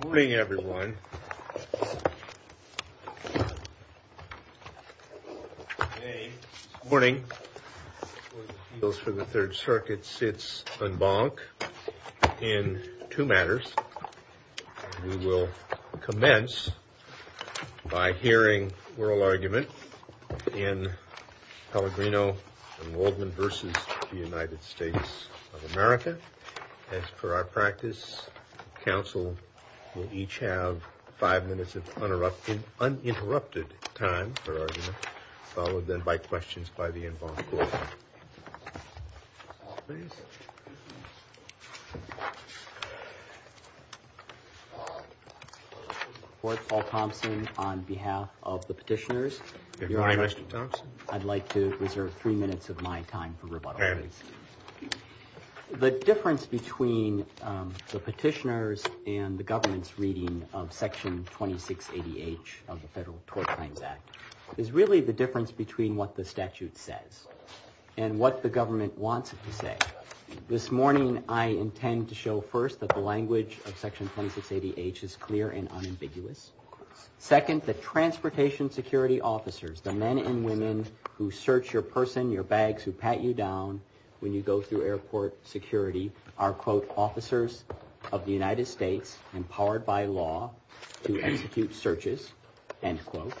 Good morning, everyone. Today, this morning, the Court of Appeals for the Third Circuit sits en banc in two matters. We will commence by hearing oral argument in Pellegrino and Waldman v. the United States of America. As per our practice, counsel will each have five minutes of uninterrupted time for argument, followed then by questions by the en banc court. Court, Paul Thompson on behalf of the petitioners. Good morning, Mr. Thompson. I'd like to reserve three minutes of my time for rebuttal, please. The difference between the petitioners and the government's reading of Section 2680H of the Federal Tort Crimes Act is really the difference between what the statute says and what the government wants it to say. This morning, I intend to show first that the language of Section 2680H is clear and unambiguous. Second, the transportation security officers, the men and women who search your person, your bags, who pat you down when you go through airport security are, quote, officers of the United States empowered by law to execute searches, end quote.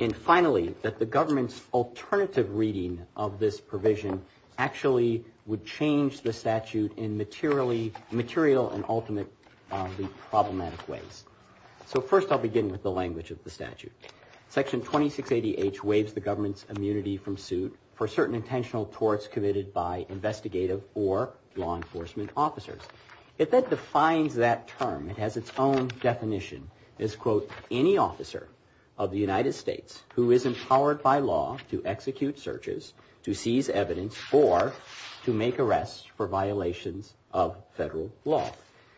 And finally, that the government's alternative reading of this provision actually would change the statute in material and ultimately problematic ways. So first, I'll begin with the language of the statute. Section 2680H waives the government's immunity from suit for certain intentional torts committed by investigative or law enforcement officers. It then defines that term. It has its own definition as, quote, any officer of the United States who is empowered by law to execute searches, to seize evidence, or to make arrests for violations of federal law.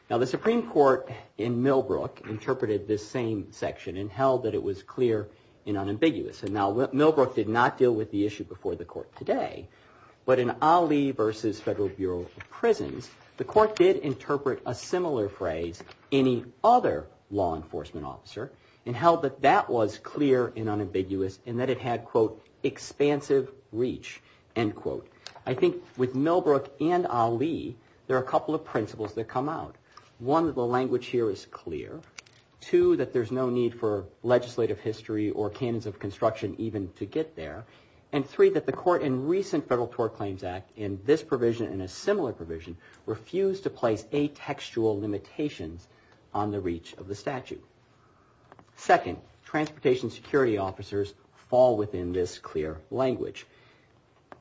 Now, the Supreme Court in Millbrook interpreted this same section and held that it was clear and unambiguous. And now, Millbrook did not deal with the issue before the court today. But in Ali versus Federal Bureau of Prisons, the court did interpret a similar phrase, any other law enforcement officer, and held that that was clear and unambiguous and that it had, quote, expansive reach, end quote. I think with Millbrook and Ali, there are a couple of principles that come out. One, that the language here is clear. Two, that there's no need for legislative history or canons of construction even to get there. And three, that the court in recent Federal Tort Claims Act in this provision and a similar provision refused to place atextual limitations on the reach of the statute. Second, transportation security officers fall within this clear language.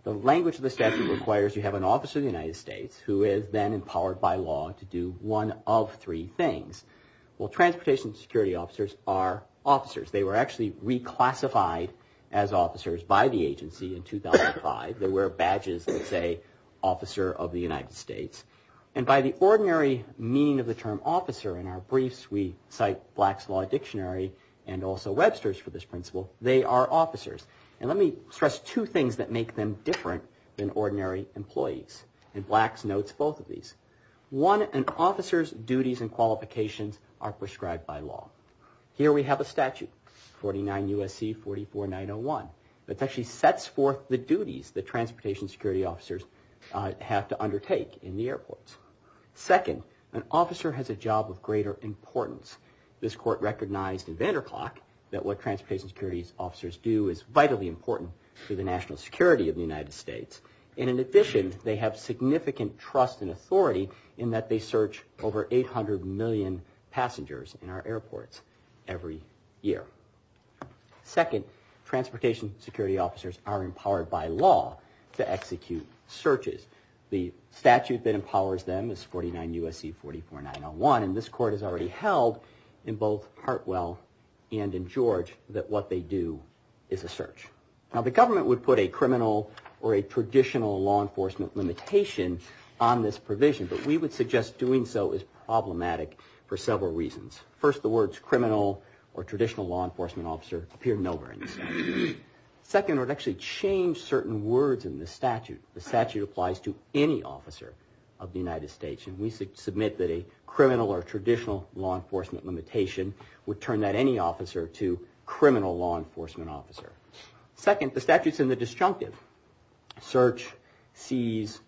The language of the statute requires you have an officer of the United States who is then empowered by law to do one of three things. Well, transportation security officers are officers. They were actually reclassified as officers by the agency in 2005. They wear badges that say, Officer of the United States. And by the ordinary meaning of the term officer in our briefs, we cite Black's Law Dictionary and also Webster's for this principle, they are officers. And let me stress two things that make them different than ordinary employees. And Black's notes both of these. One, an officer's duties and qualifications are prescribed by law. Here we have a statute, 49 U.S.C. 44901. It actually sets forth the duties that transportation security officers have to undertake in the airports. Second, an officer has a job of greater importance. This court recognized in Vanderklok that what transportation security officers do is vitally important to the national security of the United States. And in addition, they have significant trust and authority in that they search over 800 million passengers in our airports every year. Second, transportation security officers are empowered by law to execute searches. The statute that empowers them is 49 U.S.C. 44901. And this court has already held in both Hartwell and in George that what they do is a search. Now, the government would put a criminal or a traditional law enforcement limitation on this provision. But we would suggest doing so is problematic for several reasons. First, the words criminal or traditional law enforcement officer appear nowhere in this statute. Second, it would actually change certain words in the statute. The statute applies to any officer of the United States. And we submit that a criminal or traditional law enforcement limitation would turn that any officer to criminal law enforcement officer. Second, the statute's in the disjunctive. Search, seize,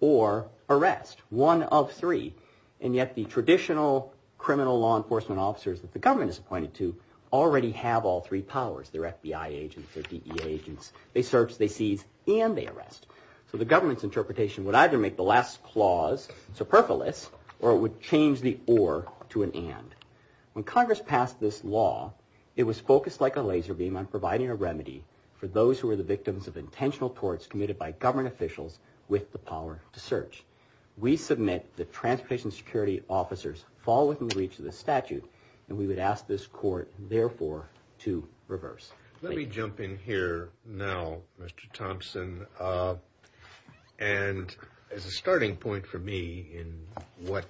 or arrest, one of three. And yet the traditional criminal law enforcement officers that the government is appointed to already have all three powers. They're FBI agents, they're DEA agents. They search, they seize, and they arrest. So the government's interpretation would either make the last clause, superfluous, or it would change the or to an and. When Congress passed this law, it was focused like a laser beam on providing a remedy for those who were the victims of intentional torts committed by government officials with the power to search. We submit that transportation security officers fall within reach of the statute, and we would ask this court, therefore, to reverse. Let me jump in here now, Mr. Thompson. And as a starting point for me in what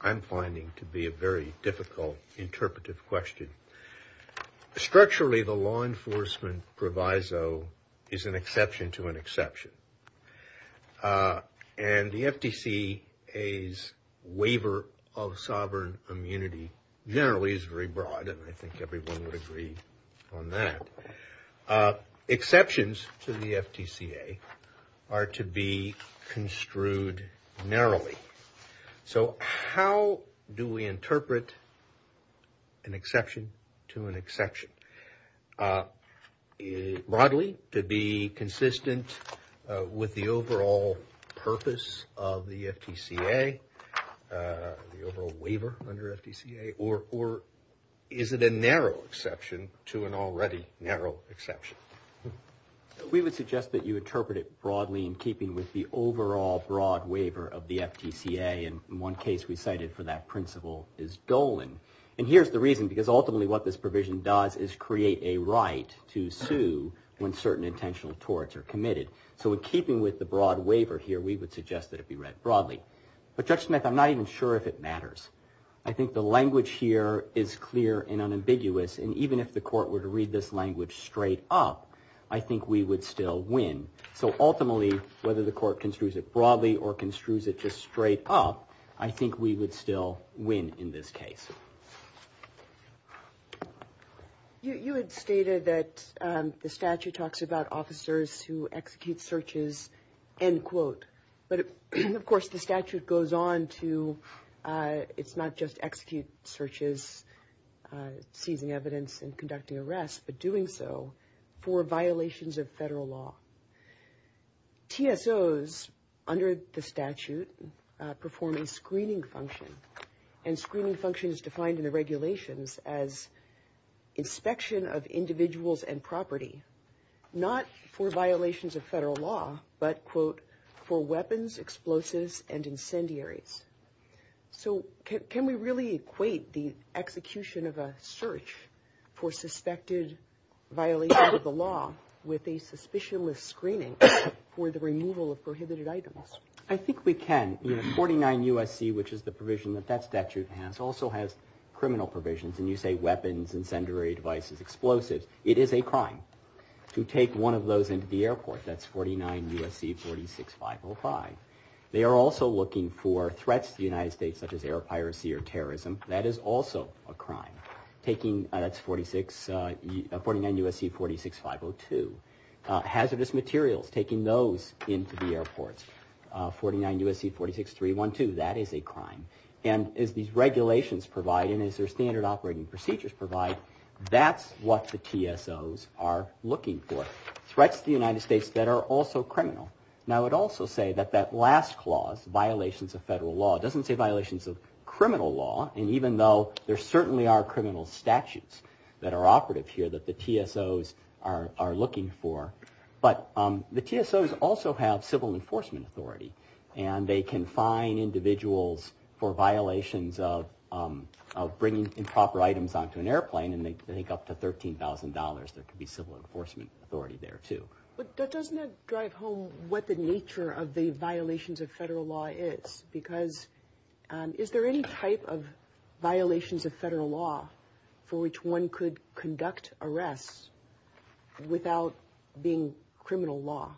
I'm finding to be a very difficult interpretive question, structurally the law enforcement proviso is an exception to an exception. And the FTCA's waiver of sovereign immunity generally is very broad, and I think everyone would agree on that. Exceptions to the FTCA are to be construed narrowly. So how do we interpret an exception to an exception? Broadly, to be consistent with the overall purpose of the FTCA, the overall waiver under FTCA, or is it a narrow exception to an already narrow exception? We would suggest that you interpret it broadly in keeping with the overall broad waiver of the FTCA, and one case we cited for that principle is Dolan. And here's the reason, because ultimately what this provision does is create a right to sue when certain intentional torts are committed. So in keeping with the broad waiver here, we would suggest that it be read broadly. I think the language here is clear and unambiguous, and even if the court were to read this language straight up, I think we would still win. So ultimately, whether the court construes it broadly or construes it just straight up, I think we would still win in this case. You had stated that the statute talks about officers who execute searches, end quote. But, of course, the statute goes on to, it's not just execute searches, seizing evidence, and conducting arrests, but doing so for violations of federal law. TSOs, under the statute, perform a screening function, and screening function is defined in the regulations as inspection of individuals and property, not for violations of federal law, but, quote, for weapons, explosives, and incendiaries. So can we really equate the execution of a search for suspected violation of the law with a suspicionless screening for the removal of prohibited items? I think we can. 49 U.S.C., which is the provision that that statute has, also has criminal provisions, and you say weapons, incendiary devices, explosives. It is a crime to take one of those into the airport. That's 49 U.S.C. 46505. They are also looking for threats to the United States, such as air piracy or terrorism. That is also a crime, taking, that's 49 U.S.C. 46502. Hazardous materials, taking those into the airports, 49 U.S.C. 46312, that is a crime. And as these regulations provide and as their standard operating procedures provide, that's what the TSOs are looking for, threats to the United States that are also criminal. And I would also say that that last clause, violations of federal law, doesn't say violations of criminal law, and even though there certainly are criminal statutes that are operative here that the TSOs are looking for, but the TSOs also have civil enforcement authority, and they can fine individuals for violations of bringing improper items onto an airplane, and they can take up to $13,000. There could be civil enforcement authority there, too. But doesn't that drive home what the nature of the violations of federal law is? Because is there any type of violations of federal law for which one could conduct arrests without being criminal law?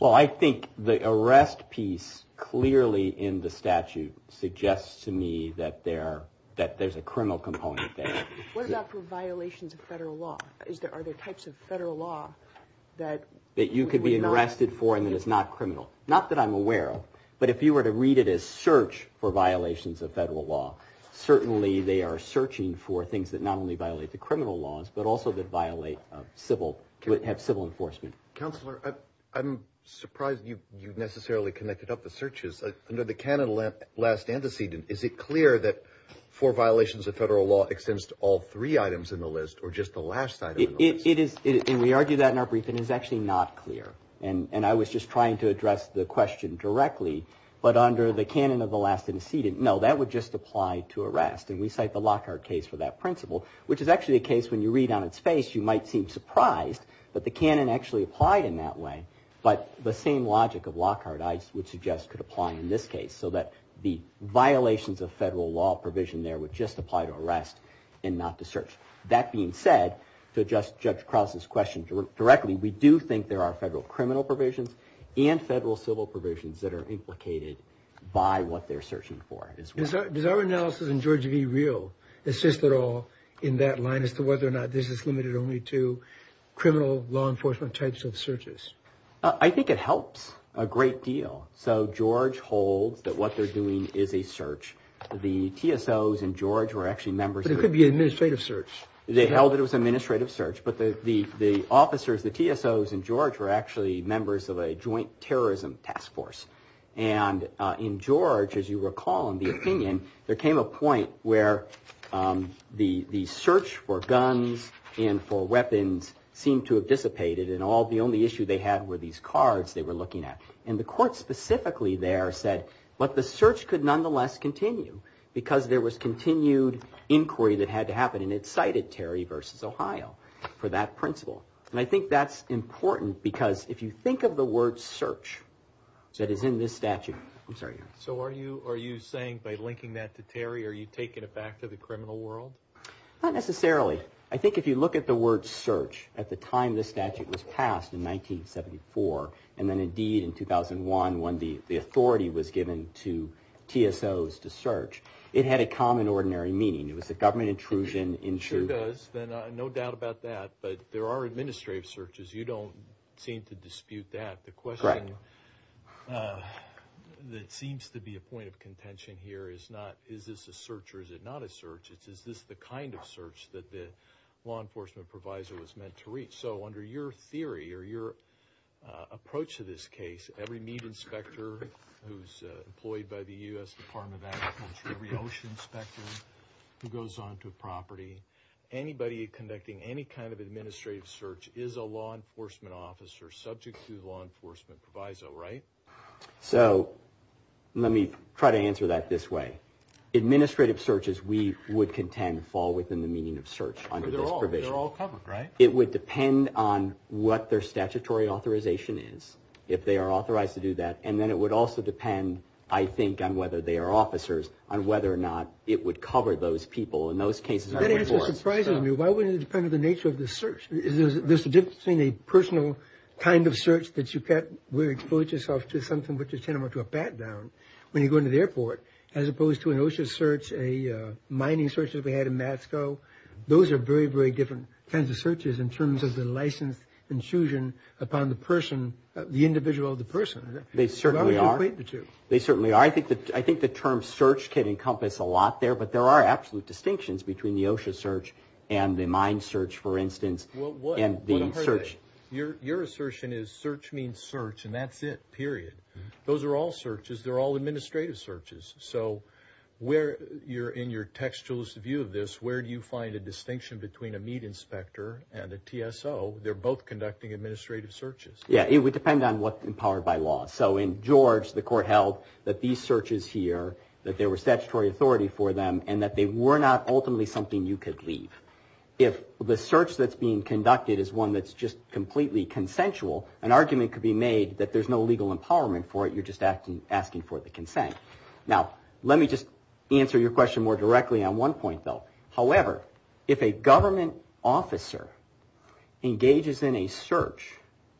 Well, I think the arrest piece clearly in the statute suggests to me that there's a criminal component there. What about for violations of federal law? Are there types of federal law that you could be arrested for and that is not criminal? Not that I'm aware of, but if you were to read it as search for violations of federal law, certainly they are searching for things that not only violate the criminal laws, but also that violate civil, have civil enforcement. Counselor, I'm surprised you necessarily connected up the searches. Under the canon of last antecedent, is it clear that for violations of federal law extends to all three items in the list or just the last item in the list? It is, and we argue that in our brief, and it's actually not clear. And I was just trying to address the question directly, but under the canon of the last antecedent, no, that would just apply to arrest, and we cite the Lockhart case for that principle, which is actually a case when you read on its face, you might seem surprised, but the canon actually applied in that way. But the same logic of Lockhart, I would suggest, could apply in this case, so that the violations of federal law provision there would just apply to arrest and not to search. That being said, to address Judge Krause's question directly, we do think there are federal criminal provisions and federal civil provisions that are implicated by what they're searching for as well. Does our analysis in George v. Real assist at all in that line as to whether or not this is limited only to criminal law enforcement types of searches? I think it helps a great deal. So George holds that what they're doing is a search. The TSOs in George were actually members of the… But it could be an administrative search. They held it was an administrative search, but the officers, the TSOs in George, were actually members of a joint terrorism task force. And in George, as you recall in the opinion, there came a point where the search for guns and for weapons seemed to have dissipated and the only issue they had were these cards they were looking at. And the court specifically there said, but the search could nonetheless continue because there was continued inquiry that had to happen, and it cited Terry v. Ohio for that principle. And I think that's important because if you think of the word search, that is in this statute. I'm sorry. So are you saying by linking that to Terry, are you taking it back to the criminal world? Not necessarily. I think if you look at the word search at the time this statute was passed in 1974 and then indeed in 2001 when the authority was given to TSOs to search, it had a common ordinary meaning. It was a government intrusion into… Sure does. Then no doubt about that. But there are administrative searches. You don't seem to dispute that. The question that seems to be a point of contention here is not, is this a search or is it not a search? It's, is this the kind of search that the law enforcement provisor was meant to reach? So under your theory or your approach to this case, every meat inspector who's employed by the U.S. Department of Agriculture, every ocean inspector who goes onto a property, anybody conducting any kind of administrative search is a law enforcement officer subject to the law enforcement proviso, right? So let me try to answer that this way. Administrative searches, we would contend, fall within the meaning of search under this provision. They're all covered, right? It would depend on what their statutory authorization is, if they are authorized to do that, and then it would also depend, I think, on whether they are officers, on whether or not it would cover those people in those cases. That answer surprises me. Why wouldn't it depend on the nature of the search? There's a difference between a personal kind of search that you get where you expose yourself to something which is tantamount to a pat-down when you go into the airport, as opposed to an OSHA search, a mining search that we had in Moscow. Those are very, very different kinds of searches in terms of the license intrusion upon the person, the individual of the person. They certainly are. Why would you equate the two? They certainly are. I think the term search can encompass a lot there, but there are absolute distinctions between the OSHA search and the mine search, for instance, and the search. Your assertion is search means search, and that's it, period. Those are all searches. They're all administrative searches. So in your textualist view of this, where do you find a distinction between a meat inspector and a TSO? They're both conducting administrative searches. Yeah, it would depend on what's empowered by law. So in George, the court held that these searches here, that there was statutory authority for them, and that they were not ultimately something you could leave. If the search that's being conducted is one that's just completely consensual, an argument could be made that there's no legal empowerment for it. You're just asking for the consent. Now, let me just answer your question more directly on one point, though. However, if a government officer engages in a search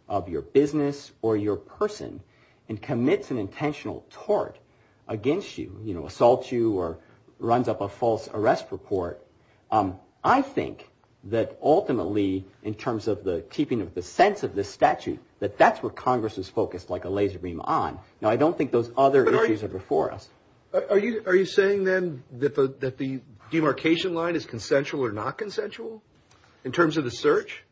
of your business or your person and commits an intentional tort against you, assaults you, or runs up a false arrest report, I think that ultimately, in terms of the keeping of the sense of this statute, that that's where Congress is focused like a laser beam on. Now, I don't think those other issues are before us. Are you saying, then, that the demarcation line is consensual or not consensual in terms of the search?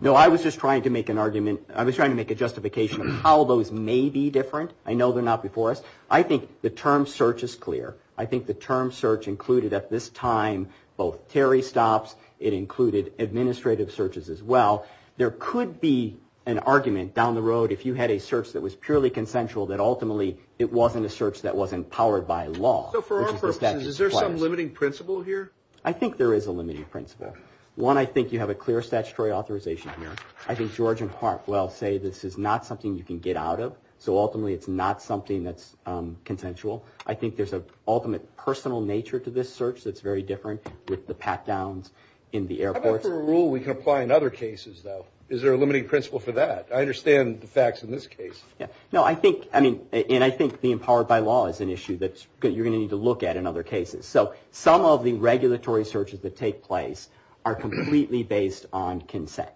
No, I was just trying to make an argument. I was trying to make a justification of how those may be different. I know they're not before us. I think the term search is clear. I think the term search included, at this time, both Terry stops. It included administrative searches as well. There could be an argument down the road, if you had a search that was purely consensual, that ultimately it wasn't a search that was empowered by law. So for our purposes, is there some limiting principle here? I think there is a limiting principle. One, I think you have a clear statutory authorization here. I think George and Hartwell say this is not something you can get out of. So ultimately, it's not something that's consensual. I think there's an ultimate personal nature to this search that's very different with the pat-downs in the airports. How about for a rule we can apply in other cases, though? Is there a limiting principle for that? I understand the facts in this case. No, I think the empowered by law is an issue that you're going to need to look at in other cases. So some of the regulatory searches that take place are completely based on consent.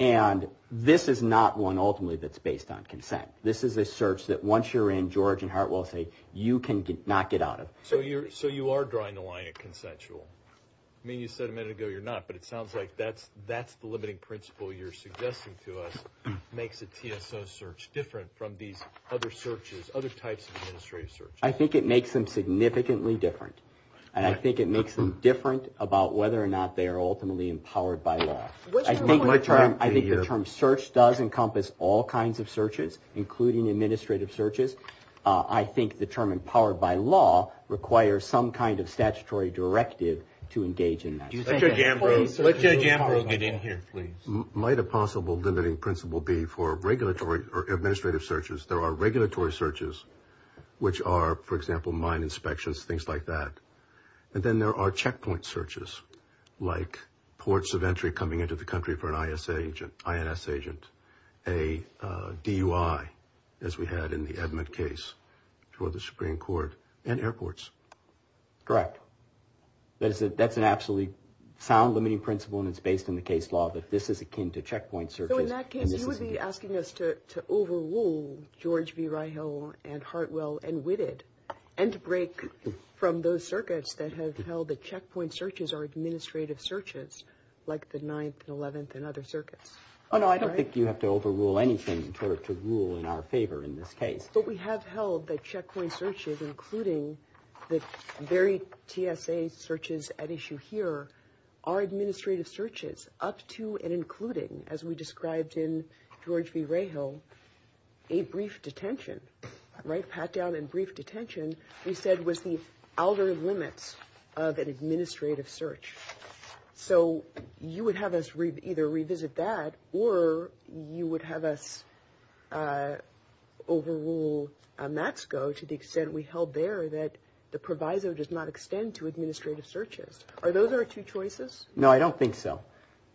And this is not one, ultimately, that's based on consent. This is a search that once you're in, George and Hartwell say, you cannot get out of. So you are drawing the line at consensual. I mean, you said a minute ago you're not, but it sounds like that's the limiting principle you're suggesting to us makes a TSO search different from these other searches, other types of administrative searches. I think it makes them significantly different. And I think it makes them different about whether or not they are ultimately empowered by law. I think the term search does encompass all kinds of searches, including administrative searches. I think the term empowered by law requires some kind of statutory directive to engage in that. Let Judge Ambrose get in here, please. Might a possible limiting principle be for regulatory or administrative searches, there are regulatory searches, which are, for example, mine inspections, things like that. And then there are checkpoint searches, like ports of entry coming into the country for an ISA agent, INS agent, a DUI, as we had in the Edmund case, for the Supreme Court, and airports. Correct. That's an absolutely sound limiting principle, and it's based on the case law, but this is akin to checkpoint searches. So in that case, you would be asking us to overrule George V. Reihel and Hartwell and to break from those circuits that have held that checkpoint searches are administrative searches, like the 9th and 11th and other circuits. Oh, no, I don't think you have to overrule anything in order to rule in our favor in this case. But we have held that checkpoint searches, including the very TSA searches at issue here, are administrative searches up to and including, as we described in George V. Reihel, a brief detention. Right, pat down and brief detention, we said was the outer limits of an administrative search. So you would have us either revisit that or you would have us overrule MATSCO to the extent we held there that the proviso does not extend to administrative searches. Are those our two choices? No, I don't think so.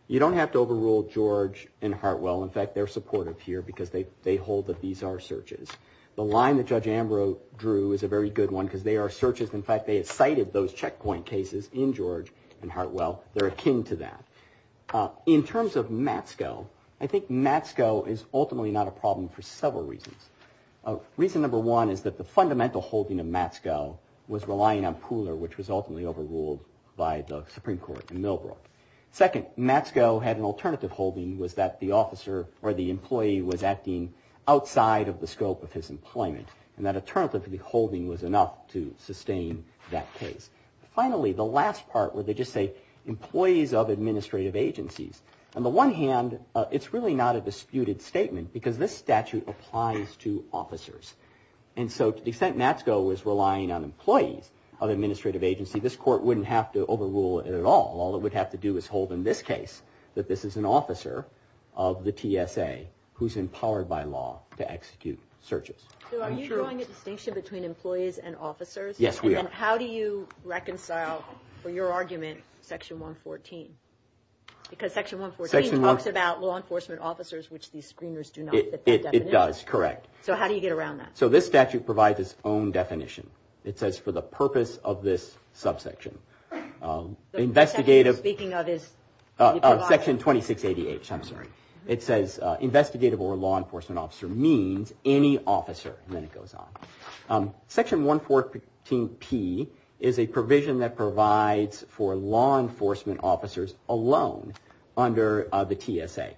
You don't have to overrule George and Hartwell. In fact, they're supportive here because they hold that these are searches. The line that Judge Ambrose drew is a very good one because they are searches. In fact, they have cited those checkpoint cases in George and Hartwell. They're akin to that. In terms of MATSCO, I think MATSCO is ultimately not a problem for several reasons. Reason number one is that the fundamental holding of MATSCO was relying on Pooler, which was ultimately overruled by the Supreme Court in Millbrook. Second, MATSCO had an alternative holding was that the officer or the employee was acting outside of the scope of his employment. And that alternative holding was enough to sustain that case. Finally, the last part where they just say employees of administrative agencies. On the one hand, it's really not a disputed statement because this statute applies to officers. And so to the extent MATSCO was relying on employees of administrative agency, this court wouldn't have to overrule it at all. All it would have to do is hold in this case that this is an officer of the TSA who's empowered by law to execute searches. So are you drawing a distinction between employees and officers? Yes, we are. And how do you reconcile for your argument Section 114? Because Section 114 talks about law enforcement officers, which these screeners do not. It does, correct. So how do you get around that? So this statute provides its own definition. It says for the purpose of this subsection. The section you're speaking of is? Section 2688, I'm sorry. It says investigative or law enforcement officer means any officer. And then it goes on. Section 114P is a provision that provides for law enforcement officers alone under the TSA.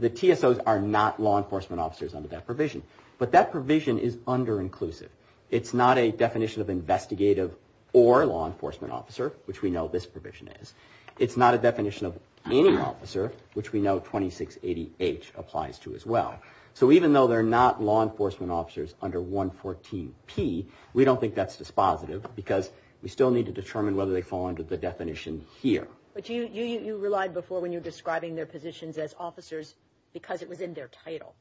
The TSOs are not law enforcement officers under that provision. But that provision is underinclusive. It's not a definition of investigative or law enforcement officer, which we know this provision is. It's not a definition of any officer, which we know 2688 applies to as well. So even though they're not law enforcement officers under 114P, we don't think that's dispositive because we still need to determine whether they fall under the definition here. But you relied before when you were describing their positions as officers because it was in their title.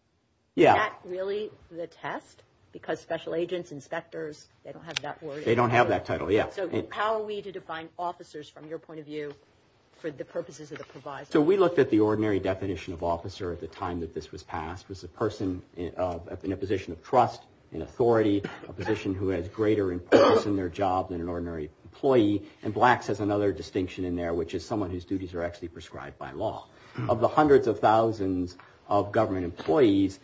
Yeah. Is that really the test? Because special agents, inspectors, they don't have that word? They don't have that title, yeah. So how are we to define officers from your point of view for the purposes of the provision? So we looked at the ordinary definition of officer at the time that this was passed. It was a person in a position of trust and authority. A position who has greater importance in their job than an ordinary employee. And Blacks has another distinction in there, which is someone whose duties are actually prescribed by law. Of the hundreds of thousands of government employees,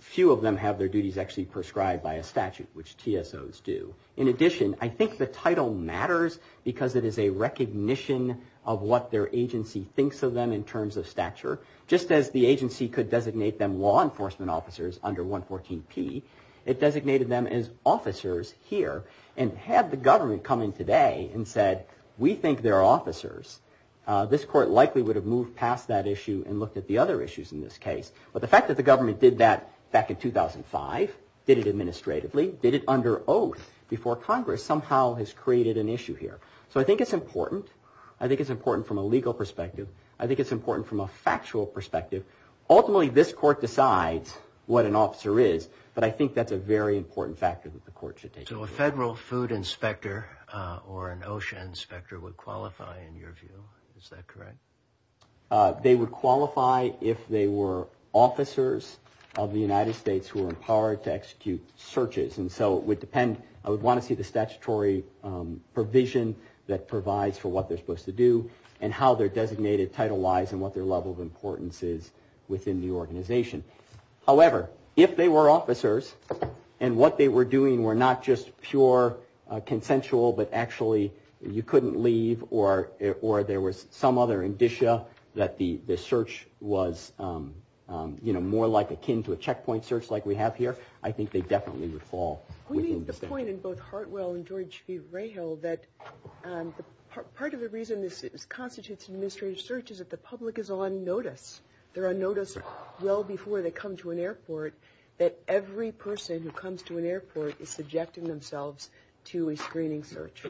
few of them have their duties actually prescribed by a statute, which TSOs do. In addition, I think the title matters because it is a recognition of what their agency thinks of them in terms of stature. Just as the agency could designate them law enforcement officers under 114P, it designated them as officers here and had the government come in today and said, we think they're officers. This court likely would have moved past that issue and looked at the other issues in this case. But the fact that the government did that back in 2005, did it administratively, did it under oath before Congress, somehow has created an issue here. So I think it's important. I think it's important from a legal perspective. I think it's important from a factual perspective. Ultimately, this court decides what an officer is, but I think that's a very important factor that the court should take into account. So a federal food inspector or an OSHA inspector would qualify in your view. Is that correct? They would qualify if they were officers of the United States who are empowered to execute searches. And so it would depend. I would want to see the statutory provision that provides for what they're supposed to do and how their designated title lies and what their level of importance is within the organization. However, if they were officers and what they were doing were not just pure consensual, but actually you couldn't leave or there was some other indicia that the search was, you know, more like akin to a checkpoint search like we have here, I think they definitely would fall. We made the point in both Hartwell and George V. Rahill that part of the reason this constitutes an administrative search is that the public is on notice. They're on notice well before they come to an airport, that every person who comes to an airport is subjecting themselves to a screening search.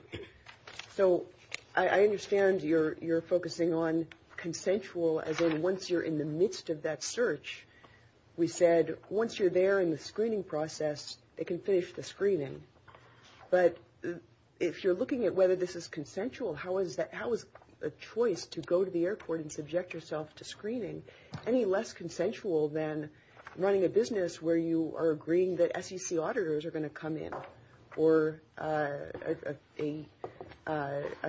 So I understand you're focusing on consensual as in once you're in the midst of that search. We said once you're there in the screening process, they can finish the screening. But if you're looking at whether this is consensual, how is a choice to go to the airport and subject yourself to screening any less consensual than running a business where you are agreeing that SEC auditors are going to come in or a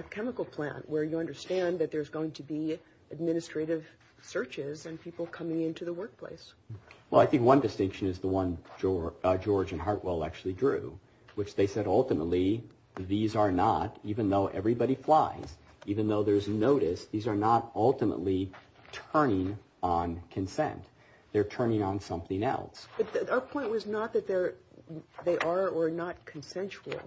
chemical plant where you understand that there's going to be administrative searches and people coming into the workplace? Well, I think one distinction is the one George and Hartwell actually drew, which they said ultimately these are not, even though everybody flies, even though there's notice, these are not ultimately turning on consent. They're turning on something else. Our point was not that they are or are not consensual.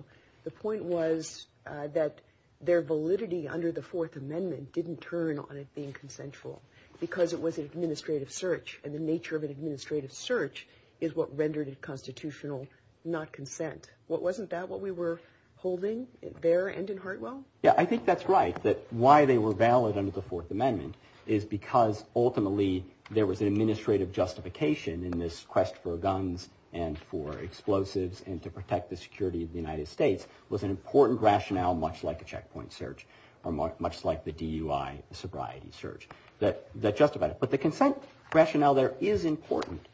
The point was that their validity under the Fourth Amendment didn't turn on it being consensual because it was an administrative search. And the nature of an administrative search is what rendered it constitutional, not consent. Wasn't that what we were holding there and in Hartwell? Yeah, I think that's right, that why they were valid under the Fourth Amendment is because ultimately there was an administrative justification in this quest for guns and for explosives and to protect the security of the United States was an important rationale, much like a checkpoint search or much like the DUI sobriety search that justified it. But the consent rationale there is important.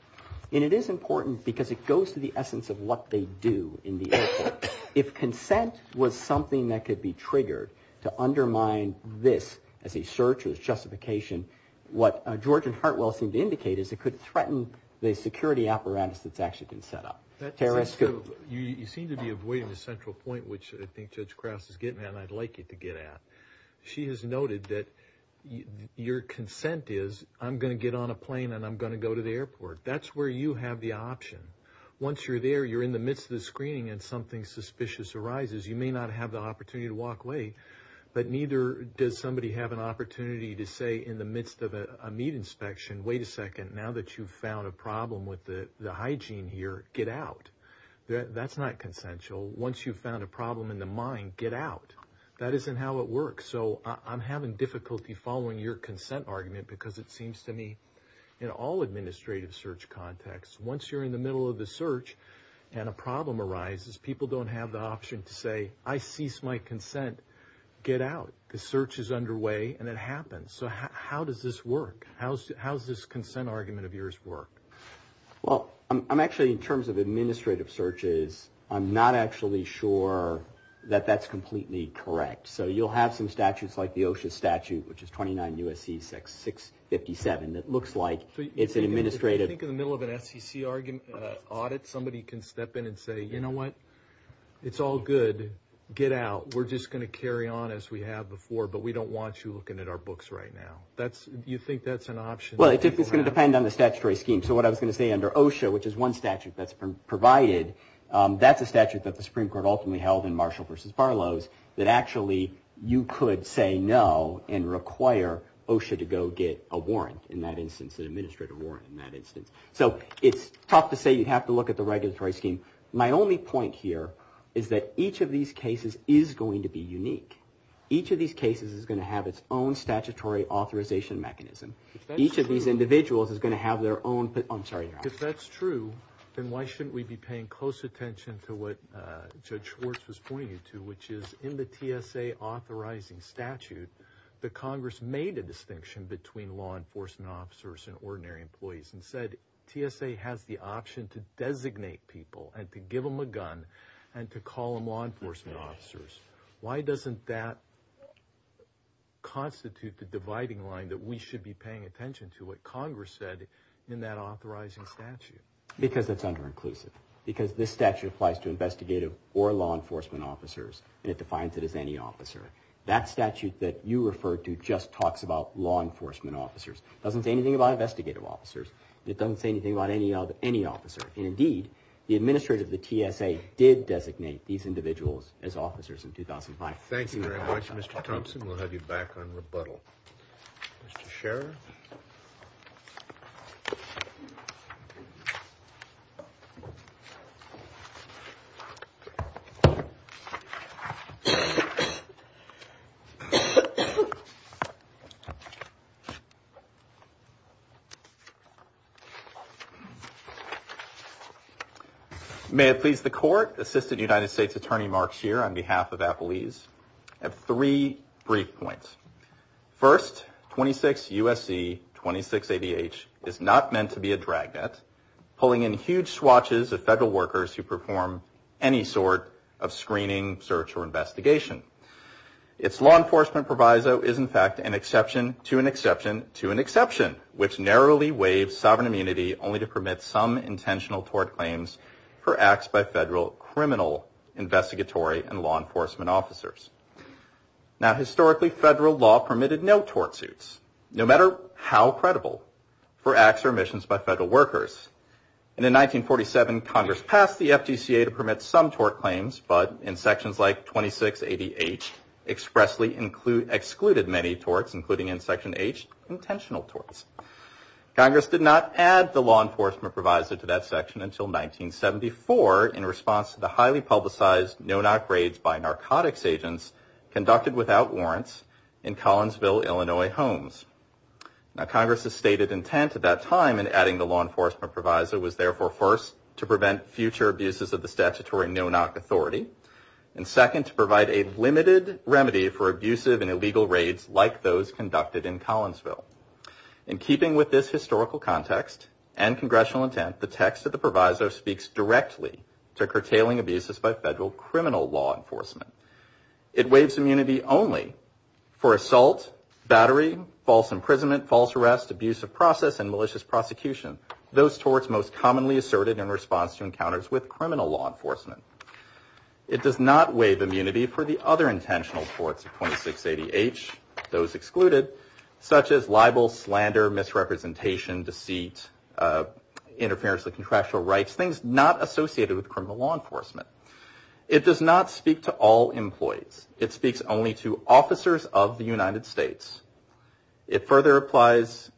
And it is important because it goes to the essence of what they do in the airport. If consent was something that could be triggered to undermine this as a search or as justification, what George and Hartwell seemed to indicate is it could threaten the security apparatus that's actually been set up. You seem to be avoiding the central point, which I think Judge Krause is getting at and I'd like you to get at. She has noted that your consent is I'm going to get on a plane and I'm going to go to the airport. That's where you have the option. Once you're there, you're in the midst of the screening and something suspicious arises. You may not have the opportunity to walk away, but neither does somebody have an opportunity to say in the midst of a meat inspection, wait a second, now that you've found a problem with the hygiene here, get out. That's not consensual. Once you've found a problem in the mind, get out. That isn't how it works, so I'm having difficulty following your consent argument because it seems to me in all administrative search contexts, once you're in the middle of the search and a problem arises, people don't have the option to say I cease my consent, get out. The search is underway and it happens, so how does this work? How does this consent argument of yours work? Well, I'm actually in terms of administrative searches. I'm not actually sure that that's completely correct, so you'll have some statutes like the OSHA statute, which is 29 U.S.C. 657, that looks like it's an administrative. If you think in the middle of an SEC audit, somebody can step in and say, you know what? It's all good. Get out. We're just going to carry on as we have before, but we don't want you looking at our books right now. You think that's an option? Well, it's going to depend on the statutory scheme, so what I was going to say under OSHA, which is one statute that's provided, that's a statute that the Supreme Court ultimately held in Marshall v. Barlow's that actually you could say no and require OSHA to go get a warrant in that instance, an administrative warrant in that instance. So it's tough to say you'd have to look at the regulatory scheme. My only point here is that each of these cases is going to be unique. Each of these cases is going to have its own statutory authorization mechanism. Each of these individuals is going to have their own—I'm sorry. If that's true, then why shouldn't we be paying close attention to what Judge Schwartz was pointing you to, which is in the TSA authorizing statute, the Congress made a distinction between law enforcement officers and ordinary employees and said TSA has the option to designate people and to give them a gun and to call them law enforcement officers. Why doesn't that constitute the dividing line that we should be paying attention to what Congress said in that authorizing statute? Because it's underinclusive. Because this statute applies to investigative or law enforcement officers and it defines it as any officer. That statute that you referred to just talks about law enforcement officers. It doesn't say anything about investigative officers. It doesn't say anything about any officer. Indeed, the administrator of the TSA did designate these individuals as officers in 2005. Thank you very much, Mr. Thompson. We'll have you back on rebuttal. Mr. Scherer. May it please the Court. Assistant United States Attorney Mark Scherer on behalf of Appleease. I have three brief points. First, 26 U.S.C. 26ADH is not meant to be a dragnet pulling in huge swatches of federal workers who perform any sort of screening, search, or investigation. Its law enforcement proviso is, in fact, an exception to an exception to an exception, which narrowly waives sovereign immunity only to permit some intentional tort claims for acts by federal criminal investigatory and law enforcement officers. Now, historically, federal law permitted no tort suits, no matter how credible, for acts or omissions by federal workers. And in 1947, Congress passed the FDCA to permit some tort claims, but in sections like 26ADH expressly excluded many torts, including in Section H, intentional torts. Congress did not add the law enforcement proviso to that section until 1974 in response to the highly publicized no-knock raids by narcotics agents conducted without warrants in Collinsville, Illinois, homes. Now, Congress's stated intent at that time in adding the law enforcement proviso was, therefore, first, to prevent future abuses of the statutory no-knock authority, and second, to provide a limited remedy for abusive and illegal raids like those conducted in Collinsville. In keeping with this historical context and congressional intent, the text of the proviso speaks directly to curtailing abuses by federal criminal law enforcement. It waives immunity only for assault, battery, false imprisonment, false arrest, abusive process, and malicious prosecution, those torts most commonly asserted in response to encounters with criminal law enforcement. It does not waive immunity for the other intentional torts of 26ADH, those excluded, such as libel, slander, misrepresentation, deceit, interference with contractual rights, things not associated with criminal law enforcement. It does not speak to all employees. It speaks only to officers of the United States. It further applies,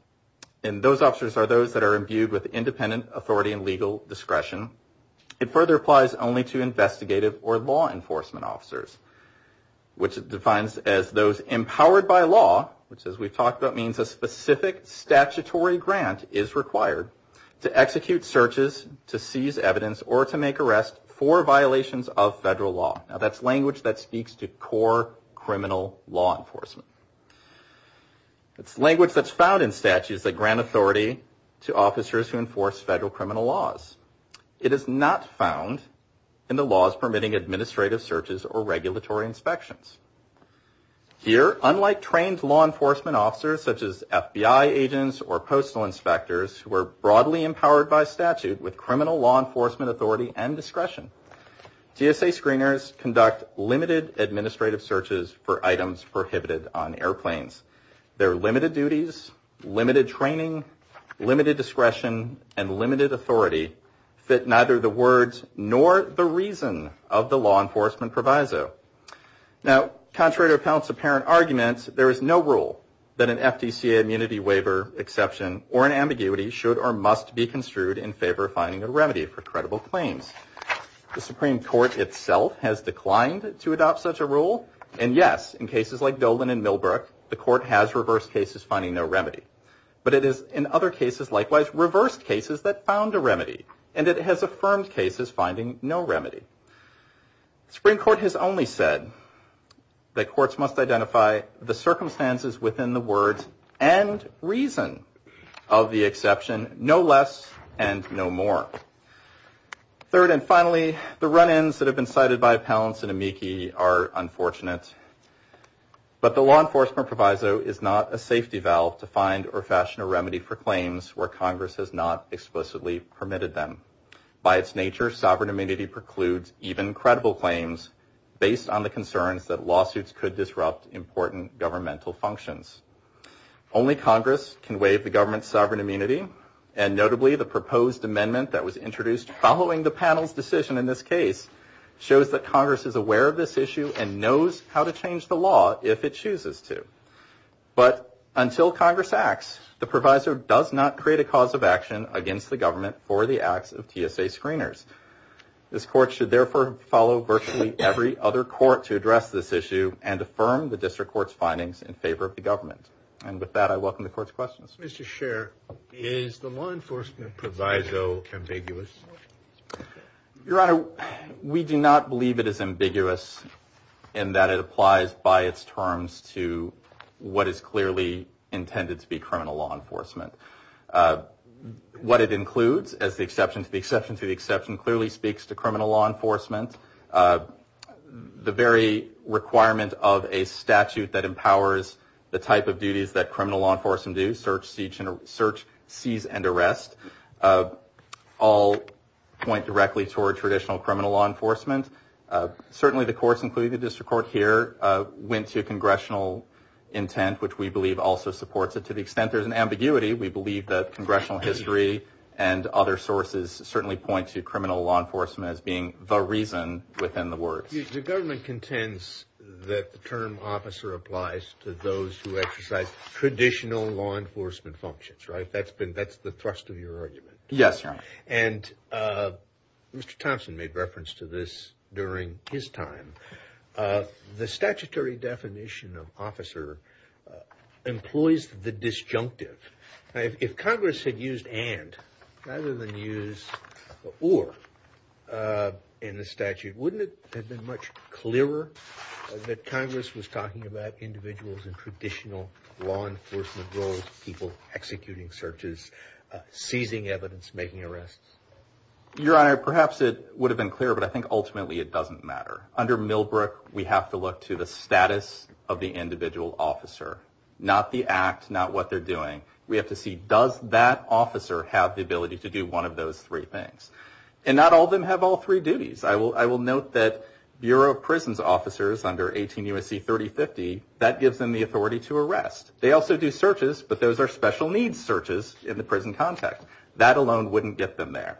and those officers are those that are imbued with independent authority and legal discretion. It further applies only to investigative or law enforcement officers, which it defines as those empowered by law, which, as we've talked about, means a specific statutory grant is required to execute searches, to seize evidence, or to make arrests for violations of federal law. Now, that's language that speaks to core criminal law enforcement. It's language that's found in statutes that grant authority to officers who enforce federal criminal laws. It is not found in the laws permitting administrative searches or regulatory inspections. Here, unlike trained law enforcement officers, such as FBI agents or postal inspectors, who are broadly empowered by statute with criminal law enforcement authority and discretion, GSA screeners conduct limited administrative searches for items prohibited on airplanes. Their limited duties, limited training, limited discretion, and limited authority fit neither the words nor the reason of the law enforcement proviso. Now, contrary to Pell's apparent arguments, there is no rule that an FDCA immunity waiver exception or an ambiguity should or must be construed in favor of finding a remedy for credible claims. The Supreme Court itself has declined to adopt such a rule. And yes, in cases like Dolan and Millbrook, the court has reversed cases finding no remedy. But it has, in other cases likewise, reversed cases that found a remedy. And it has affirmed cases finding no remedy. The Supreme Court has only said that courts must identify the circumstances within the words and reason of the exception, no less and no more. Third and finally, the run-ins that have been cited by Pallance and Amici are unfortunate. But the law enforcement proviso is not a safety valve to find or fashion a remedy for claims where Congress has not explicitly permitted them. By its nature, sovereign immunity precludes even credible claims based on the concerns that lawsuits could disrupt important governmental functions. Only Congress can waive the government's sovereign immunity, and notably the proposed amendment that was introduced following the panel's decision in this case shows that Congress is aware of this issue and knows how to change the law if it chooses to. But until Congress acts, the proviso does not create a cause of action against the government for the acts of TSA screeners. This court should therefore follow virtually every other court to address this issue and affirm the district court's findings in favor of the government. And with that, I welcome the court's questions. Mr. Scheer, is the law enforcement proviso ambiguous? Your Honor, we do not believe it is ambiguous in that it applies by its terms to what is clearly intended to be criminal law enforcement. What it includes, as the exception to the exception to the exception, clearly speaks to criminal law enforcement. The very requirement of a statute that empowers the type of duties that criminal law enforcement do, search, seize, and arrest, all point directly toward traditional criminal law enforcement. Certainly the courts, including the district court here, went to congressional intent, which we believe also supports it to the extent there's an ambiguity. We believe that congressional history and other sources certainly point to criminal law enforcement as being the reason within the words. The government contends that the term officer applies to those who exercise traditional law enforcement functions, right? That's the thrust of your argument. Yes. And Mr. Thompson made reference to this during his time. The statutory definition of officer employs the disjunctive. If Congress had used and rather than use or in the statute, wouldn't it have been much clearer that Congress was talking about individuals in traditional law enforcement roles, people executing searches, seizing evidence, making arrests? Your Honor, perhaps it would have been clearer, but I think ultimately it doesn't matter. Under Millbrook, we have to look to the status of the individual officer, not the act, not what they're doing. We have to see, does that officer have the ability to do one of those three things? And not all of them have all three duties. I will note that Bureau of Prisons officers under 18 U.S.C. 3050, that gives them the authority to arrest. They also do searches, but those are special needs searches in the prison context. That alone wouldn't get them there.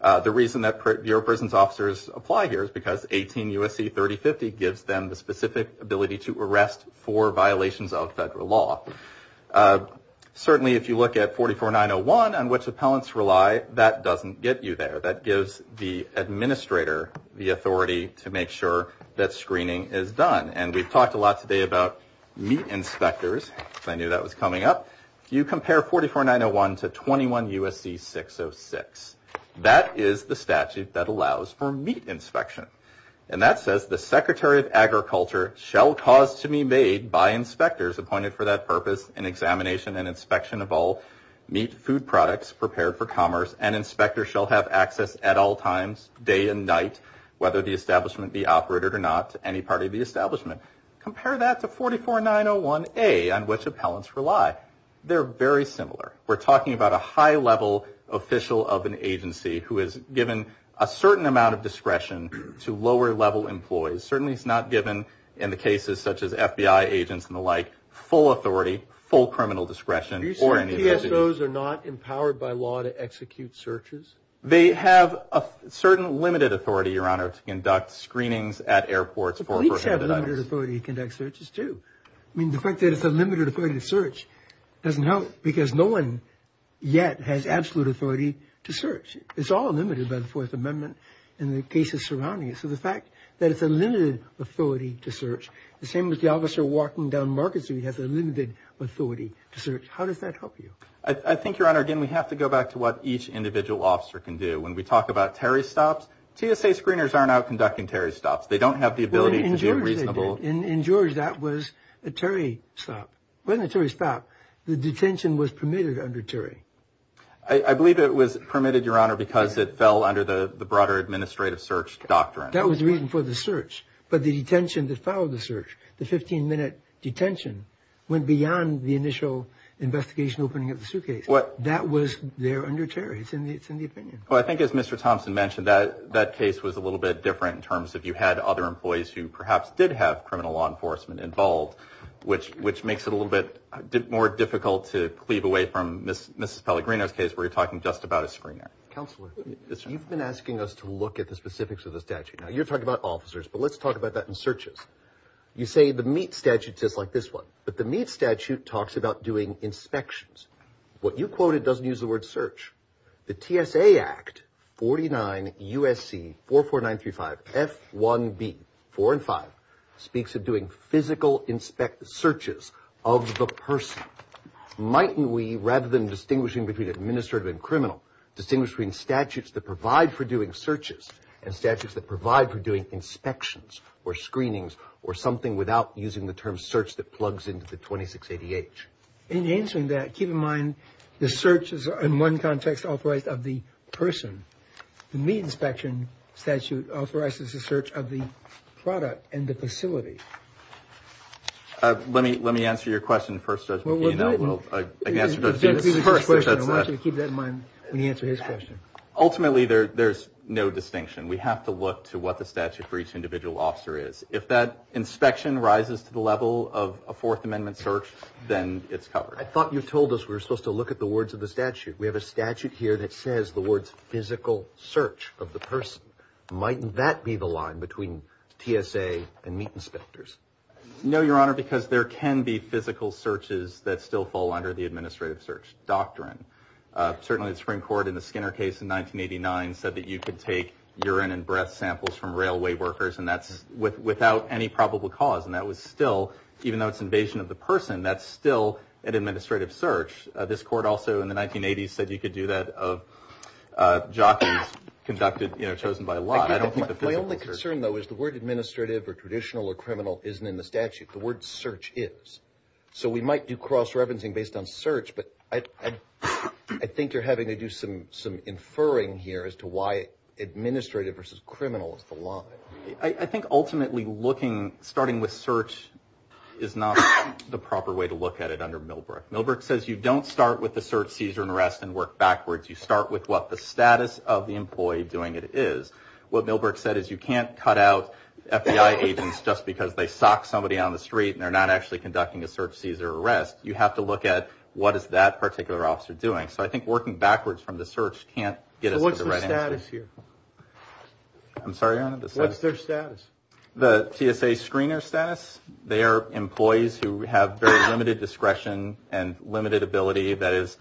The reason that Bureau of Prisons officers apply here is because 18 U.S.C. 3050 gives them the specific ability to arrest for violations of federal law. Certainly, if you look at 44901 on which appellants rely, that doesn't get you there. That gives the administrator the authority to make sure that screening is done. And we've talked a lot today about meat inspectors. I knew that was coming up. If you compare 44901 to 21 U.S.C. 606, that is the statute that allows for meat inspection. And that says the Secretary of Agriculture shall cause to be made by inspectors appointed for that purpose an examination and inspection of all meat food products prepared for commerce, and inspectors shall have access at all times, day and night, whether the establishment be operated or not to any part of the establishment. Compare that to 44901A on which appellants rely. They're very similar. We're talking about a high-level official of an agency who is given a certain amount of discretion to lower-level employees. Certainly, it's not given, in the cases such as FBI agents and the like, full authority, full criminal discretion, or any of those. Are you saying PSOs are not empowered by law to execute searches? They have a certain limited authority, Your Honor, to conduct screenings at airports for a person who dies. The police have limited authority to conduct searches, too. I mean, the fact that it's a limited authority to search doesn't help because no one yet has absolute authority to search. It's all limited by the Fourth Amendment and the cases surrounding it. So the fact that it's a limited authority to search, the same as the officer walking down Market Street has a limited authority to search. How does that help you? I think, Your Honor, again, we have to go back to what each individual officer can do. When we talk about Terry stops, TSA screeners aren't out conducting Terry stops. They don't have the ability to be reasonable. In George, that was a Terry stop. It wasn't a Terry stop. The detention was permitted under Terry. I believe it was permitted, Your Honor, because it fell under the broader administrative search doctrine. That was the reason for the search. But the detention that followed the search, the 15-minute detention, went beyond the initial investigation opening of the suitcase. That was there under Terry. It's in the opinion. Well, I think as Mr. Thompson mentioned, that case was a little bit different in terms of you had other employees who perhaps did have criminal law enforcement involved, which makes it a little bit more difficult to cleave away from Mrs. Pellegrino's case where you're talking just about a screener. Counselor, you've been asking us to look at the specifics of the statute. Now, you're talking about officers, but let's talk about that in searches. You say the MEAT statute says like this one, but the MEAT statute talks about doing inspections. What you quoted doesn't use the word search. The TSA Act 49 U.S.C. 44935 F1B, 4 and 5, speaks of doing physical searches of the person. Mightn't we, rather than distinguishing between administrative and criminal, distinguish between statutes that provide for doing searches and statutes that provide for doing inspections or screenings or something without using the term search that plugs into the 26 ADH? In answering that, keep in mind the search is, in one context, authorized of the person. The MEAT inspection statute authorizes the search of the product and the facility. Let me answer your question first, Judge McNeil. Well, we're doing it. I can answer Judge Beamer's question first. I want you to keep that in mind when you answer his question. Ultimately, there's no distinction. We have to look to what the statute for each individual officer is. If that inspection rises to the level of a Fourth Amendment search, then it's covered. I thought you told us we were supposed to look at the words of the statute. We have a statute here that says the words physical search of the person. Mightn't that be the line between TSA and MEAT inspectors? No, Your Honor, because there can be physical searches that still fall under the administrative search doctrine. Certainly, the Supreme Court in the Skinner case in 1989 said that you could take urine and breath samples from railway workers, and that's without any probable cause. And that was still, even though it's invasion of the person, that's still an administrative search. This court also in the 1980s said you could do that of jockeys chosen by law. My only concern, though, is the word administrative or traditional or criminal isn't in the statute. The word search is. So we might do cross-referencing based on search, but I think you're having to do some inferring here as to why administrative versus criminal is the line. I think ultimately looking, starting with search, is not the proper way to look at it under Milbrook. Milbrook says you don't start with the search, seizure, and arrest and work backwards. You start with what the status of the employee doing it is. What Milbrook said is you can't cut out FBI agents just because they sock somebody on the street and they're not actually conducting a search, seizure, or arrest. You have to look at what is that particular officer doing. So I think working backwards from the search can't get us to the right answer. So what's the status here? I'm sorry, Your Honor. What's their status? The TSA screener status. They are employees who have very limited discretion and limited ability. That is,